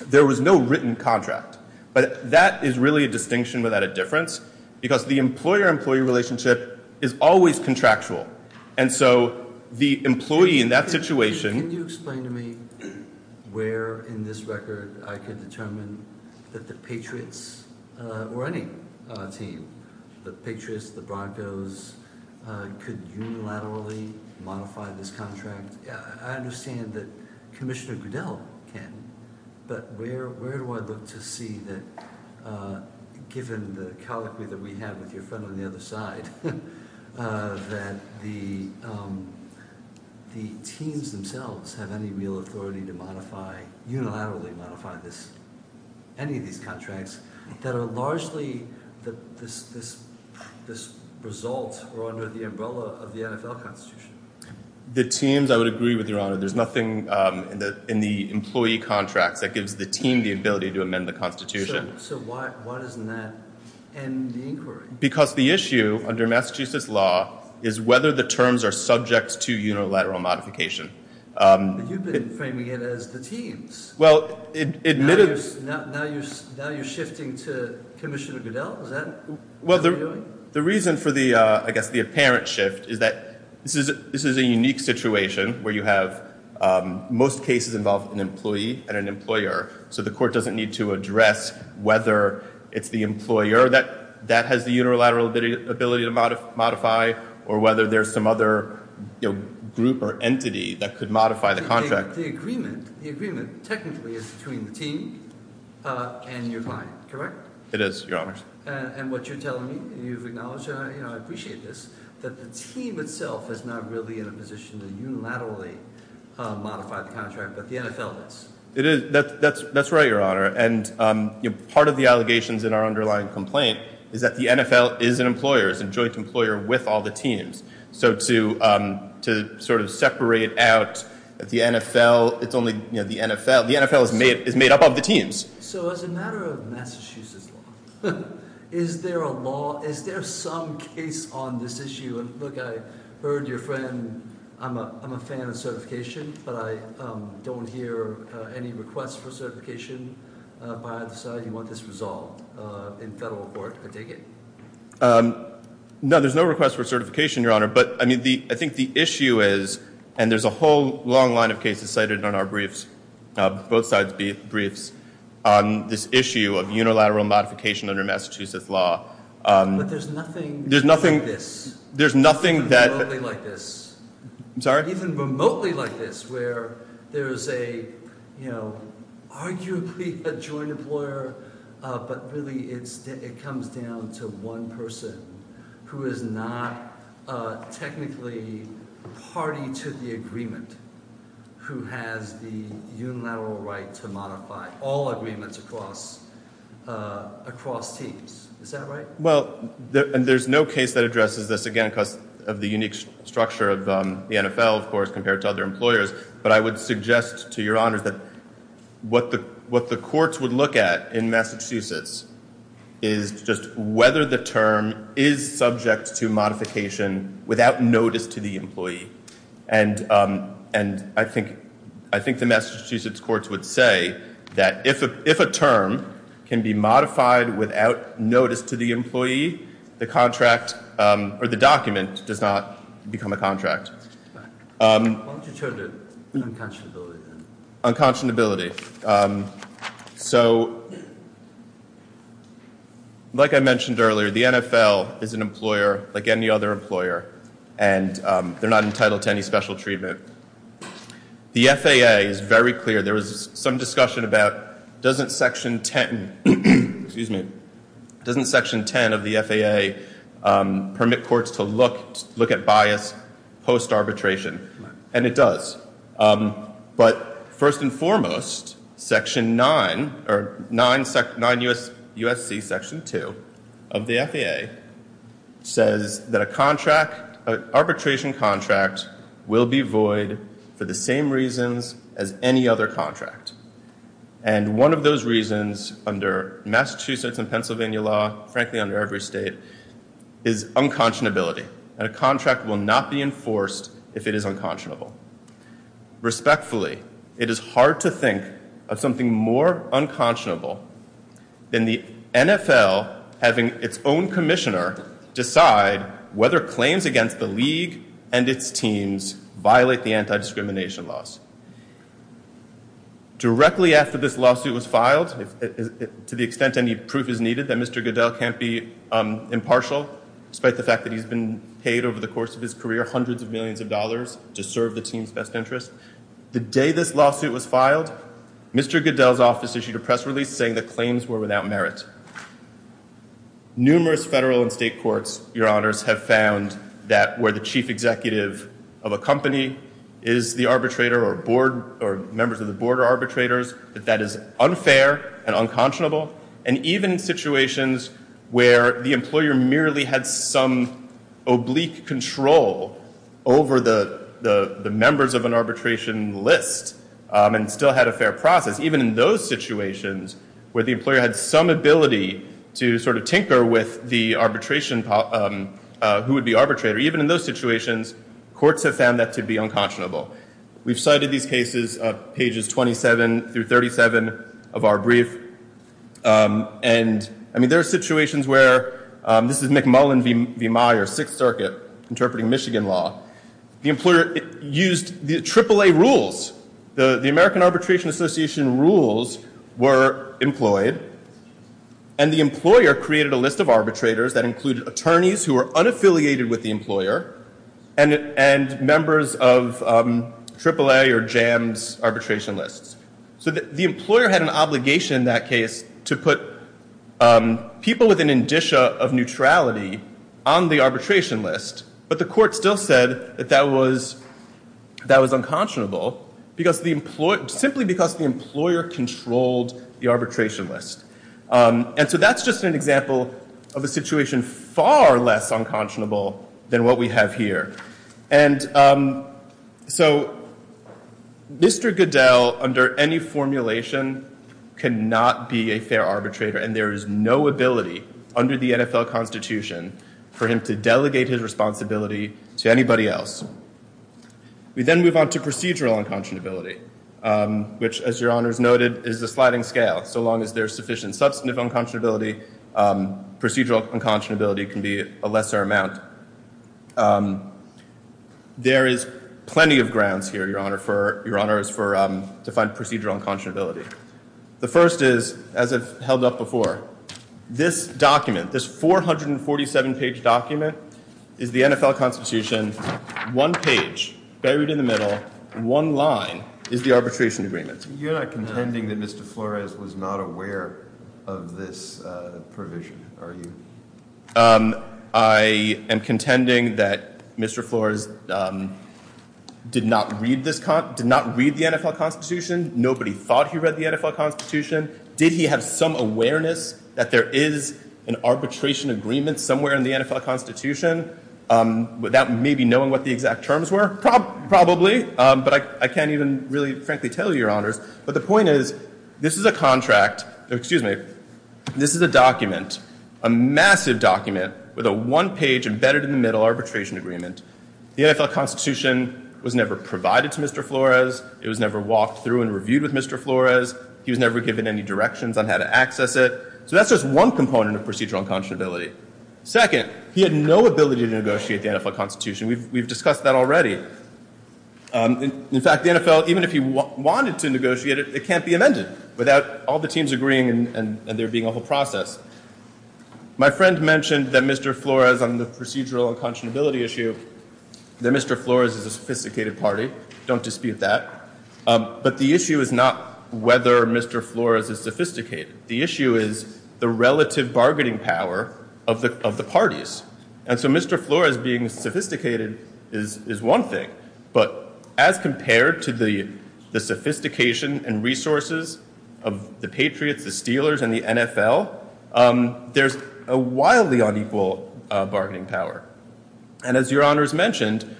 there was no written contract. But that is really a distinction without a difference because the employer-employee relationship is always contractual. And so the employee in that situation... Can you explain to me where in this record I could determine that the Patriots, or any team, the Patriots, the Broncos, could unilaterally modify this contract? I understand that Commissioner Grudel can, but where do I look to see that, given the calligraphy that we have with your friend on the other side, that the teams themselves have any real authority to unilaterally modify any of these contracts that are largely this result or under the umbrella of the NFL Constitution? The teams, I would agree with Your Honor. There's nothing in the employee contract that gives the team the ability to amend the Constitution. So why doesn't that end the inquiry? Because the issue under Massachusetts law is whether the terms are subject to unilateral modification. But you've been framing it as the teams. Well, admittedly... Now you're shifting to Commissioner Grudel. Is that what you're doing? The reason for the apparent shift is that this is a unique situation where you have most cases involving an employee and an employer, so the court doesn't need to address whether it's the employer that has the unilateral ability to modify or whether there's some other group or entity that could modify the contract. The agreement technically is between the teams and your client, correct? It is, Your Honor. And what you're telling me, you acknowledge, and I appreciate this, that the team itself is not really in a position to unilaterally modify the contract, but the NFL is. It is. That's right, Your Honor. And part of the allegations in our underlying complaint is that the NFL is an employer, is a joint employer with all the teams. So to sort of separate out the NFL, it's only the NFL. The NFL is made up of the teams. So as a matter of Massachusetts law, is there a law, is there some case on this issue? Look, I heard your friend... I'm a fan of certification, but I don't hear any request for certification by a society more disresolved in federal court for digging. No, there's no request for certification, Your Honor, but I think the issue is, and there's a whole long line of cases cited in our briefs, both sides' briefs, on this issue of unilateral modification under Massachusetts law. But there's nothing like this. There's nothing that... There's nothing like this. Even remotely like this, where there's a, you know, are you a joint employer? But really, it comes down to one person who is not technically the party to the agreement who has the unilateral right to modify all agreements across teams. Is that right? Well, and there's no case that addresses this, again, because of the unique structure of the NFL, of course, compared to other employers. But I would suggest to Your Honor that what the courts would look at in Massachusetts is just whether the term is subject to modification without notice to the employee. And I think the Massachusetts courts would say that if a term can be modified without notice to the employee, the contract or the document does not become a contract. Unconscionability. Unconscionability. So, like I mentioned earlier, the NFL is an employer like any other employer, and they're not entitled to any special treatment. The FAA is very clear. There was some discussion about, doesn't Section 10 of the FAA permit courts to look at bias post-arbitration? And it does. But first and foremost, Section 9, or 9 U.S.C. Section 2 of the FAA says that an arbitration contract will be void for the same reasons as any other contract. And one of those reasons, under Massachusetts and Pennsylvania law, frankly under every state, is unconscionability. A contract will not be enforced if it is unconscionable. Respectfully, it is hard to think of something more unconscionable than the NFL having its own commissioner decide whether claims against the league and its teams violate the anti-discrimination laws. Directly after this lawsuit was filed, to the extent any proof is needed that Mr. Goodell can't be impartial, despite the fact that he's been paid over the course of his career hundreds of millions of dollars to serve the team's best interest, the day this lawsuit was filed, Mr. Goodell's office issued a press release saying that claims were without merit. Numerous federal and state courts, Your Honors, have found that where the chief executive of a company is the arbitrator or members of the board are arbitrators, that that is unfair and unconscionable. And even in situations where the employer merely had some oblique control over the members of an arbitration list and still had a fair process, even in those situations where the employer had some ability to sort of tinker with who would be the arbitrator, even in those situations, courts have found that to be unconscionable. We've cited these cases of pages 27 through 37 of our brief. And, I mean, there are situations where, this is McMullen v. Meyer, Sixth Circuit, interpreting Michigan law. The employer used the AAA rules. The American Arbitration Association rules were employed, and the employer created a list of arbitrators that included attorneys who were unaffiliated with the employer and members of AAA or JAMS arbitration lists. So the employer had an obligation in that case to put people with an indicia of neutrality on the arbitration list, but the court still said that that was unconscionable simply because the employer controlled the arbitration list. And so that's just an example of a situation that is even far less unconscionable than what we have here. And so Mr. Goodell, under any formulation, cannot be a fair arbitrator, and there is no ability under the NFL Constitution for him to delegate his responsibility to anybody else. We then move on to procedural unconscionability, which, as your honors noted, is the sliding scale, so long as there's sufficient substantive unconscionability, procedural unconscionability can be a lesser amount. There is plenty of grounds here, your honors, to find procedural unconscionability. The first is, as I've held up before, this document, this 447-page document, is the NFL Constitution. One page, buried in the middle, in one line, is the arbitration agreement. You're not contending that Mr. Flores was not aware of this provision, are you? I am contending that Mr. Flores did not read the NFL Constitution. Nobody thought he read the NFL Constitution. Did he have some awareness that there is an arbitration agreement somewhere in the NFL Constitution, without maybe knowing what the exact terms were? Probably, but I can't even really frankly tell you, your honors. But the point is, this is a contract. Excuse me. This is a document, a massive document, with a one page, embedded in the middle, arbitration agreement. The NFL Constitution was never provided to Mr. Flores. It was never walked through and reviewed with Mr. Flores. He was never given any directions on how to access it. So that's just one component of procedural unconscionability. Second, he had no ability to negotiate the NFL Constitution. We've discussed that already. In fact, the NFL, even if he wanted to negotiate it, it can't be amended without all the teams agreeing and there being a whole process. My friend mentioned that Mr. Flores, on the procedural unconscionability issue, that Mr. Flores is a sophisticated party. Don't dispute that. But the issue is not whether Mr. Flores is sophisticated. The issue is the relative bargaining power of the parties. And so Mr. Flores being sophisticated is one thing, but as compared to the sophistication and resources of the Patriots, the Steelers, and the NFL, there's a wildly unequal bargaining power. And as your honors mentioned,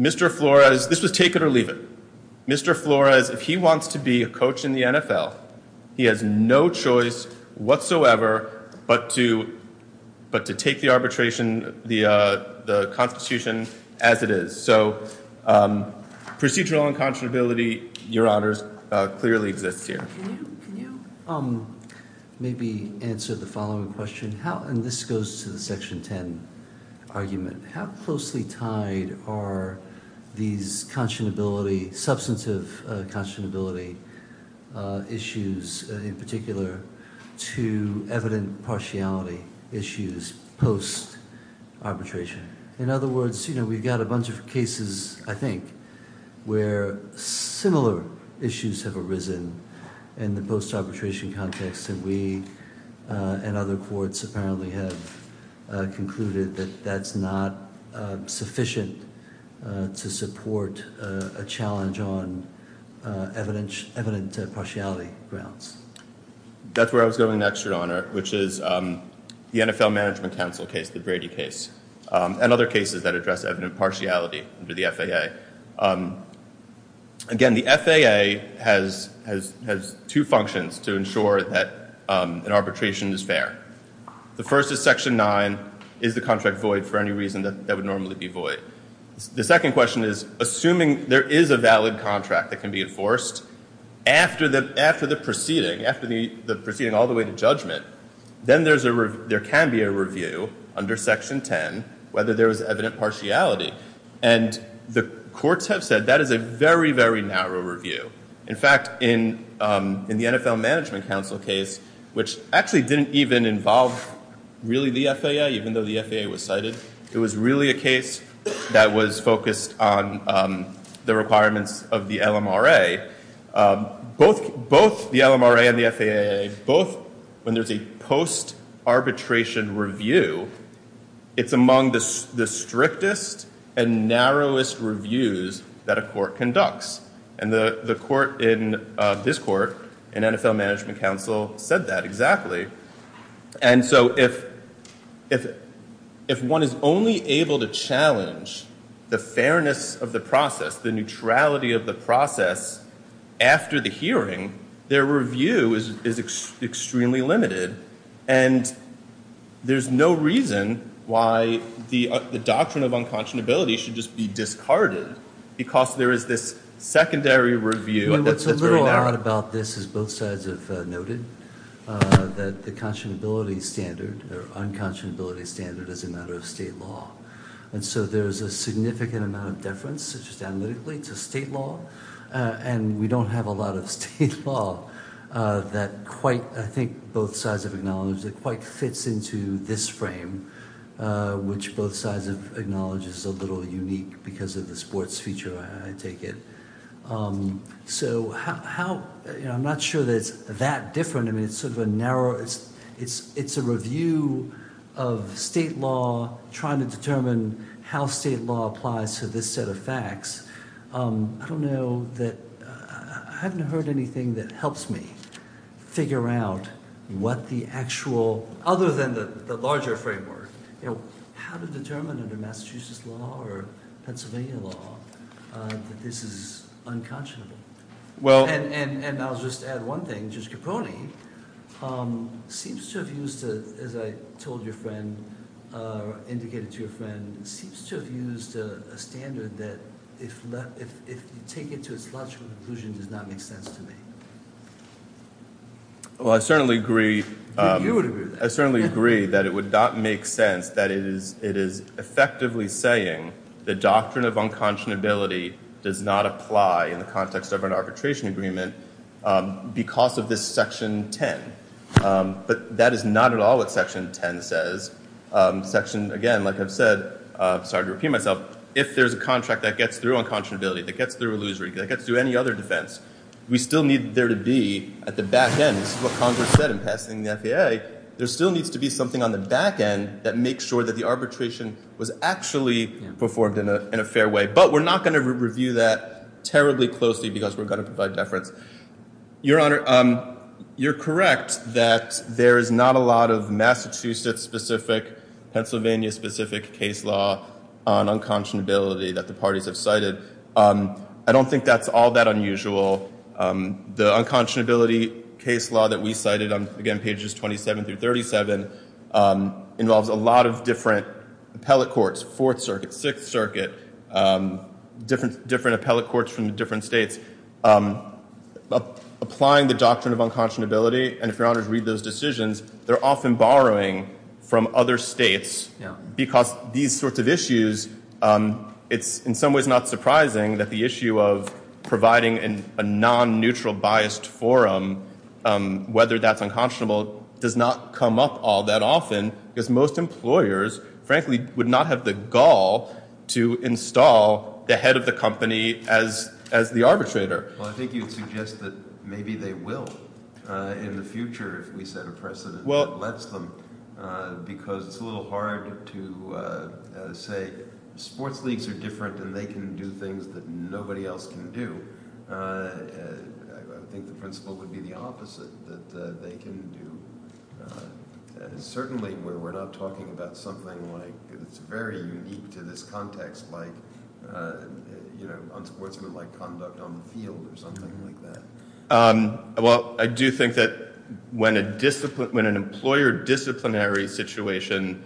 Mr. Flores, this was take it or leave it. Mr. Flores, if he wants to be a coach in the NFL, he has no choice whatsoever but to take the arbitration, the Constitution as it is. So procedural unconscionability, your honors, clearly exists here. Can you maybe answer the following question? And this goes to the Section 10 argument. How closely tied are these substantive conscionability issues in particular to evident partiality issues post-arbitration? In other words, we've got a bunch of cases, I think, where similar issues have arisen in the post-arbitration context that we and other courts apparently have concluded that that's not sufficient to support a challenge on evident partiality grounds. That's where I was going next, your honor, which is the NFL Management Council case, the Brady case. And other cases that address evident partiality under the FAA. Again, the FAA has two functions to ensure that an arbitration is fair. The first is Section 9. Is the contract void for any reason that would normally be void? The second question is, assuming there is a valid contract that can be enforced after the proceeding, after the proceeding all the way to judgment, then there can be a review under Section 10 whether there is evident partiality. And the courts have said that is a very, very narrow review. In fact, in the NFL Management Council case, which actually didn't even involve really the FAA, even though the FAA was cited, it was really a case that was focused on the requirements of the LMRA. Both the LMRA and the FAA, when there's a post-arbitration review, it's among the strictest and narrowest reviews that a court conducts. And the court in this court in NFL Management Council said that exactly. And so if one is only able to challenge the fairness of the process, the neutrality of the process after the hearing, their review is extremely limited. And there's no reason why the doctrine of unconscionability should just be discarded, because there is this secondary review. What's a little odd about this, as both sides have noted, that the conscionability standard, or unconscionability standard, is a matter of state law. And so there's a significant amount of deference, such as analytically, it's a state law. And we don't have a lot of state law that quite, I think, both sides have acknowledged, that quite fits into this frame, which both sides have acknowledged is a little unique, because of the sports feature, I take it. So I'm not sure that it's that different. I mean, it's sort of a narrow, it's a review of state law, trying to determine how state law applies to this set of facts. I don't know that, I haven't heard anything that helps me figure out what the actual, other than the larger framework, how to determine under Massachusetts law or Pennsylvania law that this is unconscionable. And I'll just add one thing, which is Caponi, seems to have used, as I told your friend, or indicated to your friend, seems to take it to as much of a conclusion does not make sense to me. Well, I certainly agree. I think you would agree. I certainly agree that it would not make sense that it is effectively saying the doctrine of unconscionability does not apply in the context of an arbitration agreement because of this section 10. But that is not at all what section 10 says. Section, again, like I said, sorry to repeat myself, if there's a contract that gets through unconscionability, that gets through illusory, that gets through any other defense, we still need there to be at the back end, which is what Congress said in passing the FAA, there still needs to be something on the back end that makes sure that the arbitration was actually performed in a fair way. But we're not going to review that terribly closely because we're going to provide deference. Your Honor, you're correct that there is not a lot of Massachusetts-specific, Pennsylvania-specific case law on unconscionability that the parties have cited. I don't think that's all that unusual. The unconscionability case law that we cited on, again, pages 27 through 37 involves a lot of different appellate courts, Fourth Circuit, Sixth Circuit, different appellate courts from different states. Applying the doctrine of unconscionability, and if you're honored to read those decisions, they're often borrowing from other states because these sorts of issues, it's in some ways not surprising that the issue of providing a non-neutral biased forum, whether that's unconscionable, does not come up all that often because most employers, frankly, would not have the gall to install the head of the company as the arbitrator. Well, I think you'd suggest that maybe they will. In the future, if we set a precedent, because it's a little hard to say sports leagues are different and they can do things that nobody else can do, I think the principle would be the opposite, that they can do, certainly, where we're not talking about something that's very unique to this context, like on sports or like conduct on the field or something like that. Well, I do think that when an employer disciplinary situation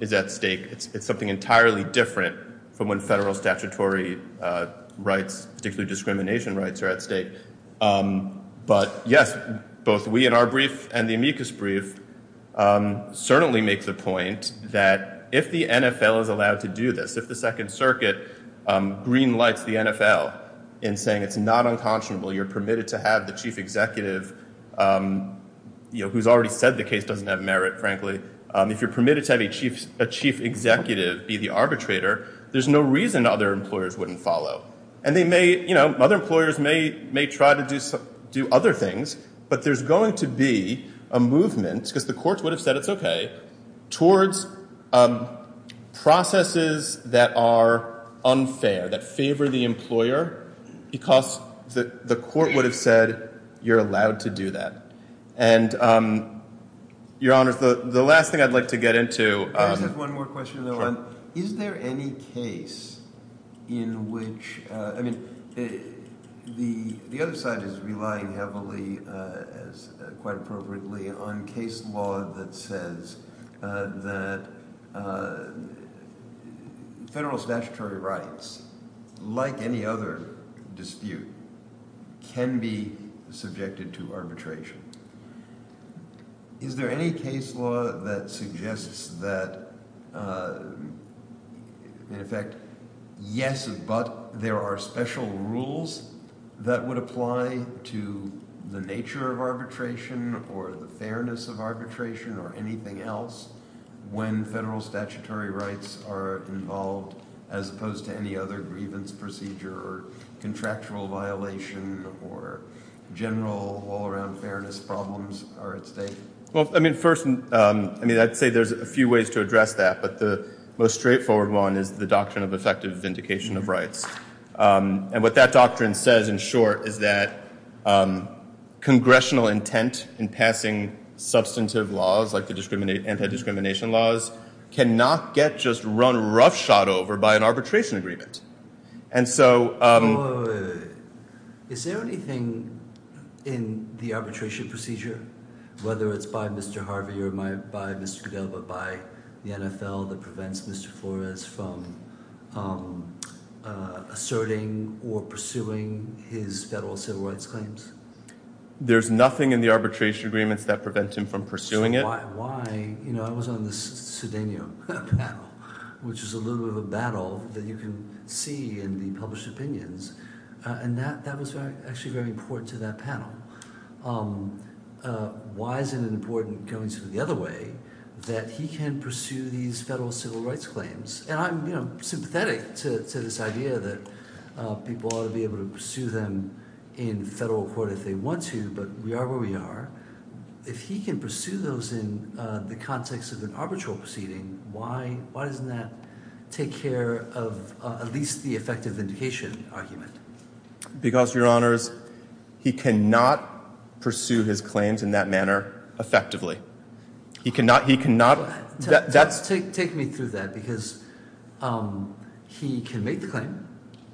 is at stake, it's something entirely different from when federal statutory rights, particularly discrimination rights, are at stake. But yes, both we in our brief and the amicus brief certainly make the point that if the NFL is allowed to do this, if the Second Circuit greenlights the NFL in saying it's not unconscionable, you're permitted to have the chief executive, who's already said the case doesn't have merit, frankly, if you're permitted to have a chief executive be the arbitrator, there's no reason other employers wouldn't follow. Other employers may try to do other things, but there's going to be a movement, because the courts would have said it's OK, towards processes that are unfair, that favor the employer, because the court would have said you're allowed to do that. And, Your Honor, the last thing I'd like to get into... I just have one more question, though. Is there any case in which... I mean, the other side is relying heavily, quite appropriately, on case law that says that federal statutory rights, like any other dispute, can be subjected to arbitration. Is there any case law that suggests that, in effect, yes, but there are special rules that would apply to the nature of arbitration or the fairness of arbitration, or anything else, when federal statutory rights are involved, as opposed to any other grievance procedure or contractual violation or general all-around fairness problems are at stake? Well, I mean, first... I'd say there's a few ways to address that, but the most straightforward one is the doctrine of effective vindication of rights. And what that doctrine says, in short, is that congressional intent in passing substantive laws, like the anti-discrimination laws, cannot get just run roughshod over by an arbitration agreement. And so... Wait, wait, wait. Is there anything in the arbitration procedure, whether it's by Mr. Harvey or by Mr. Dill, but by the NFL that prevents Mr. Flores from asserting or pursuing his federal civil rights claims? There's nothing in the arbitration agreements that prevents him from pursuing it. Why? You know, I was on the Sardinia panel, which is a little bit of a battle that you can see in the published opinions, and that was actually very important to that panel. Why is it important, going the other way, that he can pursue these federal civil rights claims? And I'm sympathetic to this idea that people ought to be able to pursue them in federal court if they want to, but we are where we are. If he can pursue those in the context of an arbitral proceeding, why doesn't that take care of at least the effective vindication argument? Because, Your Honor, he cannot pursue his claims in that manner effectively. He cannot... Take me through that, because he can make the claim.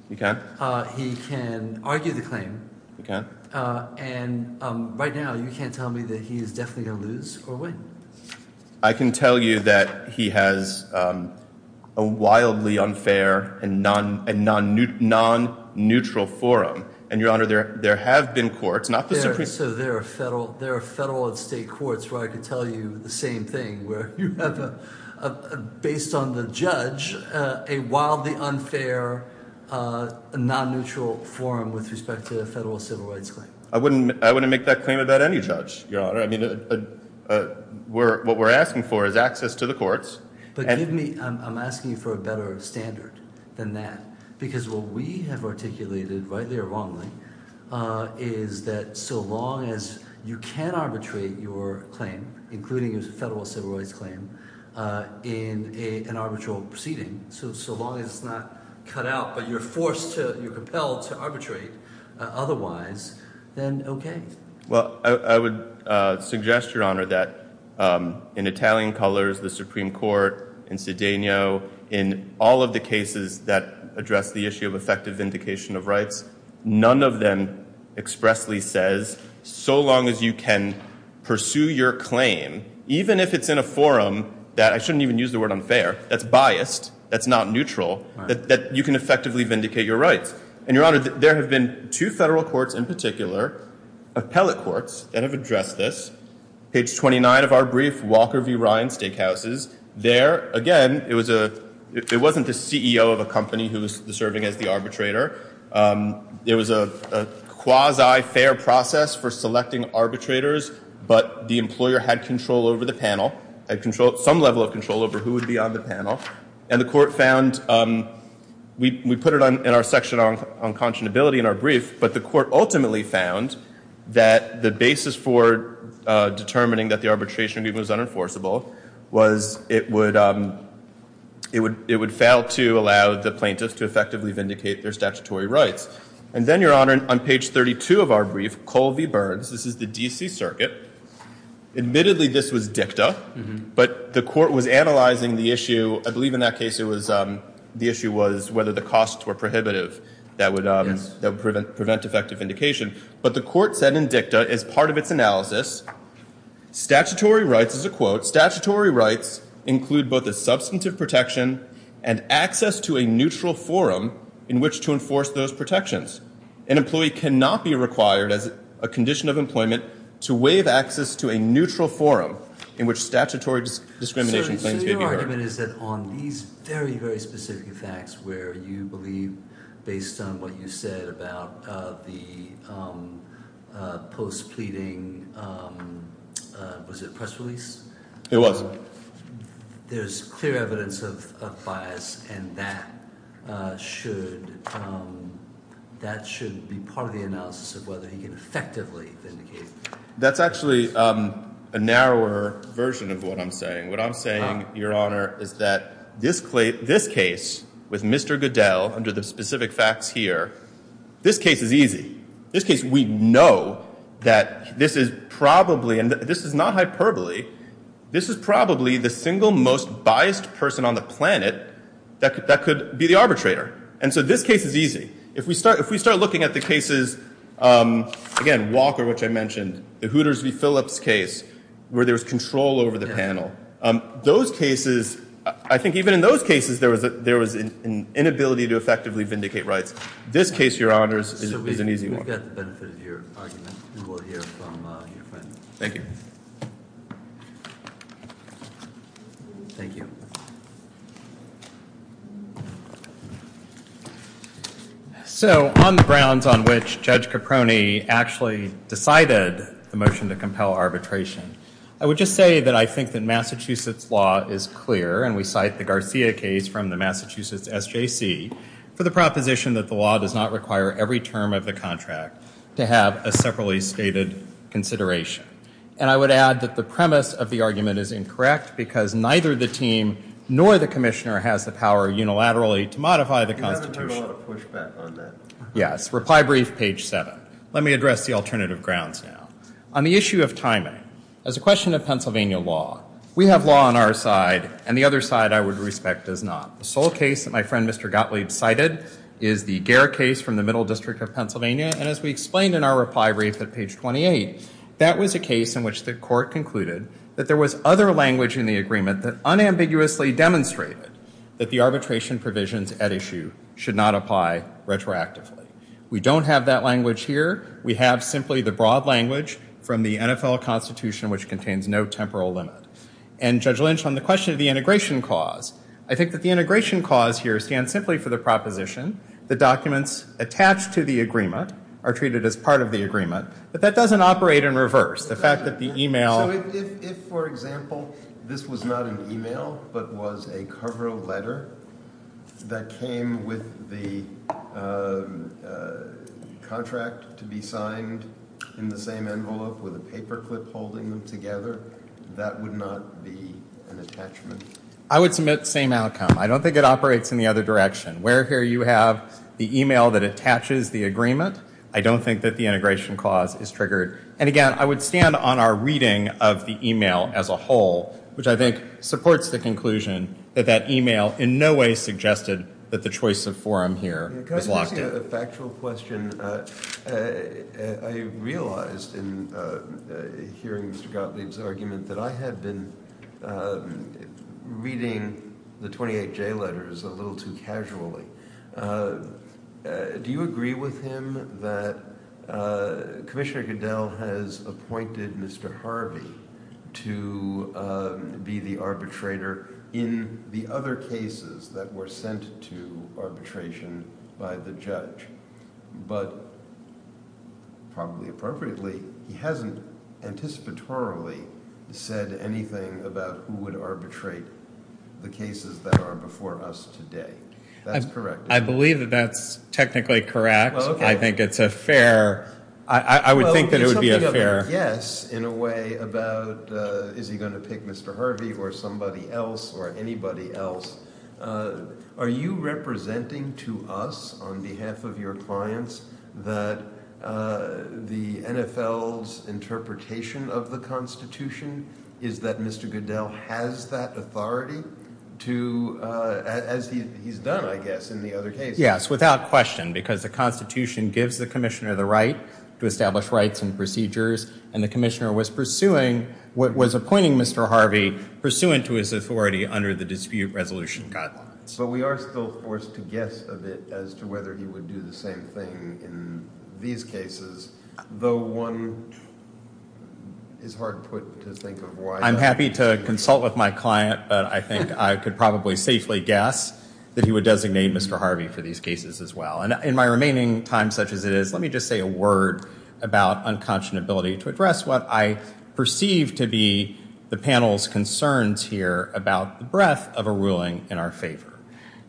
He can. He can argue the claim. He can. And right now, you can't tell me that he is definitely going to lose or win. I can tell you that he has a wildly unfair and non-neutral forum. And, Your Honor, there have been courts... So there are federal and state courts, right? I can tell you the same thing, where you have, based on the judge, a wildly unfair, non-neutral forum with respect to the federal civil rights claim. I wouldn't make that claim about any judge, Your Honor. I mean, what we're asking for is access to the courts. But give me... I'm asking you for a better standard than that, because what we have articulated, rightly or wrongly, is that so long as you can arbitrate your claim, including the federal civil rights claim, in an arbitral proceeding, so long as it's not cut out, but you're forced to, you're propelled to arbitrate otherwise, then okay. Well, I would suggest, Your Honor, that in Italian colors, the Supreme Court, in Cedeno, in all of the cases that address the issue of effective vindication of rights, none of them expressly says, so long as you can pursue your claim, even if it's in a forum that, I shouldn't even use the word unfair, that's biased, that's not neutral, that you can effectively vindicate your rights. And, Your Honor, there have been two federal courts in particular, appellate courts, that have addressed this. Page 29 of our brief, Walker v. Ryan Steakhouses, there, again, it wasn't the CEO of a company who was serving as the arbitrator. It was a quasi-fair process for selecting arbitrators, but the employer had control over the panel, had some level of control over who would be on the panel, and the court found, we put it in our section on conscionability in our brief, but the court ultimately found that the basis for determining that the arbitration deed was unenforceable was it would, it would fail to allow the plaintiffs to effectively vindicate their statutory rights. And then, Your Honor, on page 32 of our brief, Colby-Burns, this is the D.C. Circuit. Admittedly, this was dicta, but the court was analyzing the issue, I believe in that case it was, the issue was whether the costs were prohibitive that would prevent effective vindication. But the court said in dicta, as part of its analysis, statutory rights, as a quote, statutory rights include both a substantive protection and access to a neutral forum in which to enforce those protections. An employee cannot be required, as a condition of employment, to waive access to a neutral forum in which statutory discrimination claims can occur. Your argument is that on these very, very specific facts where you believe, based on what you said about the post-pleading, was it press release? It was. There's clear evidence of bias, and that should be part of the analysis of whether he effectively vindicated. That's actually a narrower version of what I'm saying. What I'm saying, Your Honor, is that this case with Mr. Goodell, under the specific facts here, this case is easy. This case, we know that this is probably, and this is not hyperbole, this is probably the single most biased person on the planet that could be the arbitrator. And so this case is easy. If we start looking at the cases, again, Walker, which I mentioned, the Hooters v. Phillips case, where there's control over the panel, those cases, I think even in those cases there was an inability to effectively vindicate rights. This case, Your Honors, is an easy one. I think that's the benefit of your argument, to hear from your friend. Thank you. Thank you. So on the grounds on which Judge Caproni actually decided the motion to compel arbitration, I would just say that I think that Massachusetts law is clear, and we cite the Garcia case from the Massachusetts SJC, for the proposition that the law does not require every term of the contract to have a separately stated consideration. And I would add that the premise of the argument is incorrect because neither the team nor the commissioner has the power unilaterally to modify the Constitution. You haven't heard a lot of pushback on that. Yes, reply brief, page 7. Let me address the alternative grounds now. On the issue of timing, as a question of Pennsylvania law, we have law on our side, and the other side, I would respect, does not. The sole case that my friend Mr. Gottlieb cited is the Gehr case from the Middle District of Pennsylvania, and as we explained in our reply brief at page 28, that was a case in which the court concluded that there was other language in the agreement that unambiguously demonstrated that the arbitration provisions at issue should not apply retroactively. We don't have that language here. We have simply the broad language from the NFL Constitution, which contains no temporal limit. And, Judge Lynch, on the question of the integration clause, I think that the integration clause here stands simply for the proposition that documents attached to the agreement are treated as part of the agreement, but that doesn't operate in reverse. The fact that the e-mail... If, for example, this was not an e-mail but was a cover letter that came with the contract to be signed in the same envelope with a paper clip holding them together, that would not be an attachment. I would submit the same outcome. I don't think it operates in the other direction. Where here you have the e-mail that attaches the agreement, I don't think that the integration clause is triggered. And again, I would stand on our reading of the e-mail as a whole, which I think supports the conclusion that that e-mail in no way suggested that the choice of forum here is locked in. Can I just ask you a factual question? I realized in hearing Mr. Gottlieb's argument that I had been reading the 28J letters a little too casually. Do you agree with him that Commissioner Goodell has appointed Mr. Harvey to be the arbitrator in the other cases that were sent to arbitration by the judge? But probably appropriately, he hasn't anticipatorily said anything about who would arbitrate the cases that are before us today. That's correct. I believe that that's technically correct. I think it's a fair... I would think that it would be a fair... Well, it's a fair guess, in a way, about is he going to pick Mr. Harvey or somebody else or anybody else. Are you representing to us, on behalf of your clients, that the NFL's interpretation of the Constitution is that Mr. Goodell has that authority as he's done, I guess, in the other cases? Yes, without question, because the Constitution gives the Commissioner the right to establish rights and procedures, and the Commissioner was pursuing, was appointing Mr. Harvey, pursuant to his authority under the dispute resolution. So we are still forced to guess a bit as to whether he would do the same thing in these cases, though one is hard put to think of why... I'm happy to consult with my client, but I think I could probably safely guess that he would designate Mr. Harvey for these cases as well. And in my remaining time such as it is, let me just say a word about unconscionability to address what I perceive to be the panel's concerns here about the breadth of a ruling in our favor.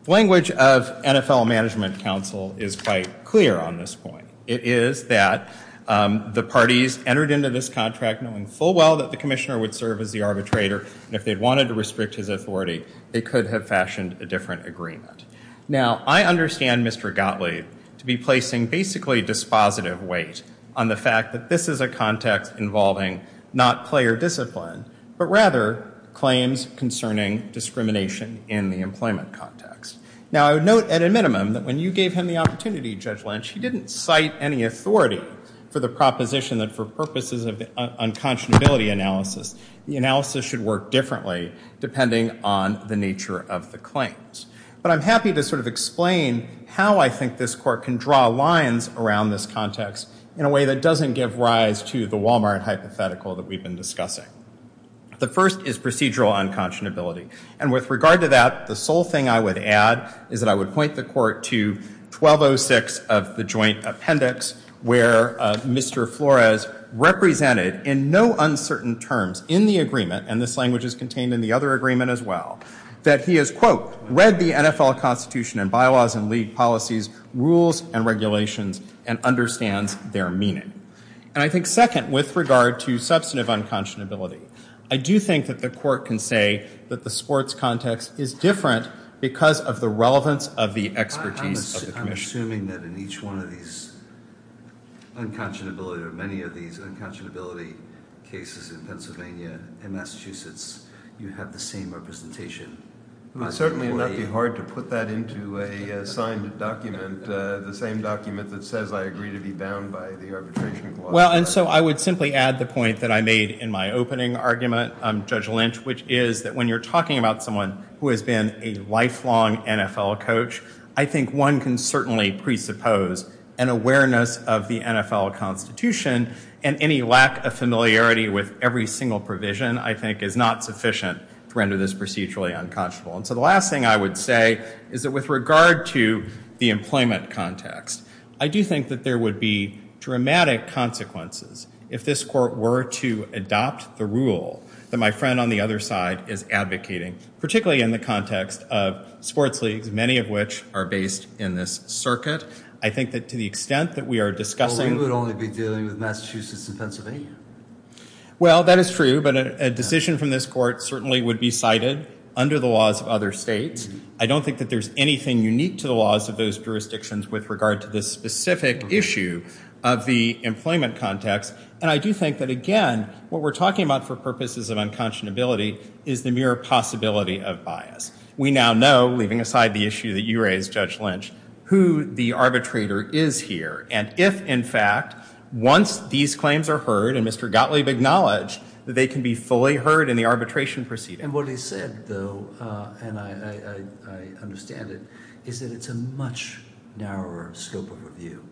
The language of NFL Management Council is quite clear on this point. It is that the parties entered into this contract knowing full well that the Commissioner would serve as the arbitrator, and if they wanted to restrict his authority, they could have fashioned a different agreement. Now, I understand Mr. Gottlieb to be placing basically dispositive weight on the fact that this is a context involving not player discipline, but rather claims concerning discrimination in the employment context. Now, I would note at a minimum that when you gave him the opportunity, Judge Lynch, he didn't cite any authority for the proposition that for purposes of unconscionability analysis, the analysis should work differently depending on the nature of the claims. But I'm happy to sort of explain how I think this court can draw lines around this context in a way that doesn't give rise to the Walmart hypothetical that we've been discussing. The first is procedural unconscionability. And with regard to that, the sole thing I would add is that I would point the court to 1206 of the joint appendix where Mr. Flores represented in no uncertain terms in the agreement, and this language is contained in the other agreement as well, that he has, quote, read the NFL Constitution and bylaws and league policies, rules, and regulations, and understands their meaning. And I think second, with regard to substantive unconscionability, I do think that the court can say that the sports context is different because of the relevance of the expertise of the commission. I'm assuming that in each one of these unconscionability, or many of these unconscionability cases in Pennsylvania and Massachusetts, you have the same representation. Certainly, it might be hard to put that into a signed document, the same document that says I agree to be bound by the arbitration clause. Well, and so I would simply add the point that I made in my opening argument, Judge Lynch, which is that when you're talking about someone who has been a lifelong NFL coach, I think one can certainly presuppose an awareness of the NFL Constitution and any lack of familiarity with every single provision, I think, is not sufficient to render this procedurally unconscionable. And so the last thing I would say is that with regard to the employment context, I do think that there would be dramatic consequences if this court were to adopt the rule that my friend on the other side is advocating, particularly in the context of sports leagues, many of which are based in this circuit. I think that to the extent that we are discussing... Well, we would only be dealing with Massachusetts and Pennsylvania. Well, that is true, but a decision from this court certainly would be cited under the laws of other states. I don't think that there's anything unique to the laws of those jurisdictions with regard to the specific issue of the employment context. And I do think that, again, what we're talking about for purposes of unconscionability is the mere possibility of bias. We now know, leaving aside the issue that you raised, Judge Lynch, who the arbitrator is here, and if, in fact, once these claims are heard and Mr. Gottlieb acknowledged that they can be fully heard in the arbitration proceeding. And what he said, though, and I understand it, is that it's a much narrower scope of review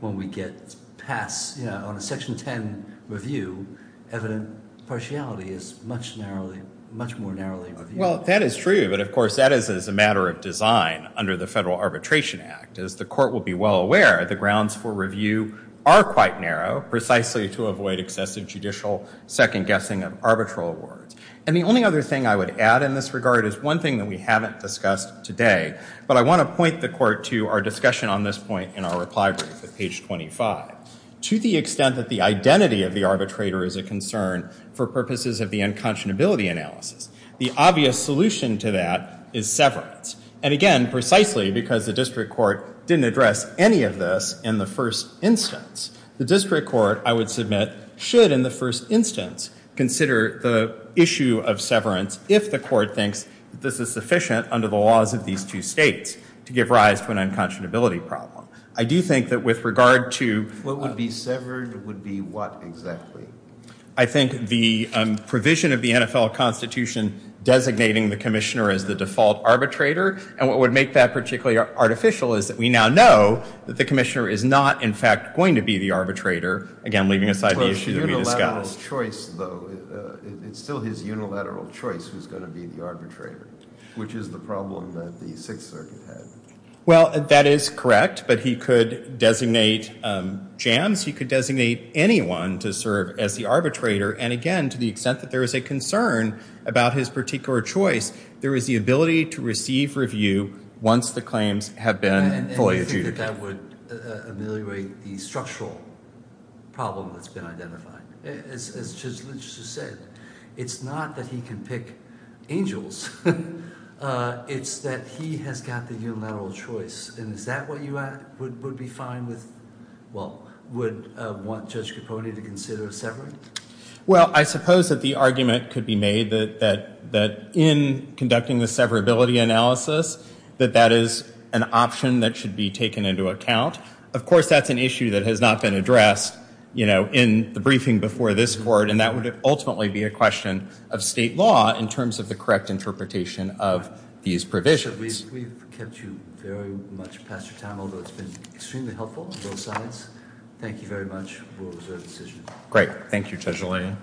when we get past, you know, the 6-10 review, evident partiality is much more narrowly reviewed. Well, that is true, but, of course, that is a matter of design under the Federal Arbitration Act. As the court will be well aware, the grounds for review are quite narrow precisely to avoid excessive judicial second-guessing of arbitral awards. And the only other thing I would add in this regard is one thing that we haven't discussed today, but I want to point the court to our discussion on this point in our reply brief at page 25. To the extent that the identity of the arbitrator is a concern for purposes of the unconscionability analysis, the obvious solution to that is severance. And, again, precisely because the district court didn't address any of this in the first instance. The district court, I would submit, should, in the first instance, consider the issue of severance if the court thinks that this is sufficient under the laws of these two states to give rise to an unconscionability problem. I do think that with regard to... What would be severed would be what exactly? I think the provision of the NFL Constitution designating the commissioner as the default arbitrator. And what would make that particularly artificial is that we now know that the commissioner is not, in fact, going to be the arbitrator, again, leaving aside the issues we discussed. It's still his unilateral choice who's going to be the arbitrator, which is the problem that the Sixth Circuit had. Well, that is correct, but he could designate jams. He could designate anyone to serve as the arbitrator. And, again, to the extent that there is a concern about his particular choice, there is the ability to receive review once the claims have been fully adjudicated. And you think that that would ameliorate the structural problem that's been identified. It's just as Richard said. It's not that he can pick angels. It's that he has got the unilateral choice. And is that where you would be fine with, well, would want Judge Capone to consider severing? Well, I suppose that the argument could be made that in conducting the severability analysis that that is an option that should be taken into account. Of course, that's an issue that has not been addressed, you know, in the briefing before this court, and that would ultimately be a question of state law in terms of the correct interpretation of these provisions. Judge, we've kept you very much past your time, although it's been extremely helpful on both sides. Thank you very much for observing this issue. Great. Thank you, Judge O'Leary.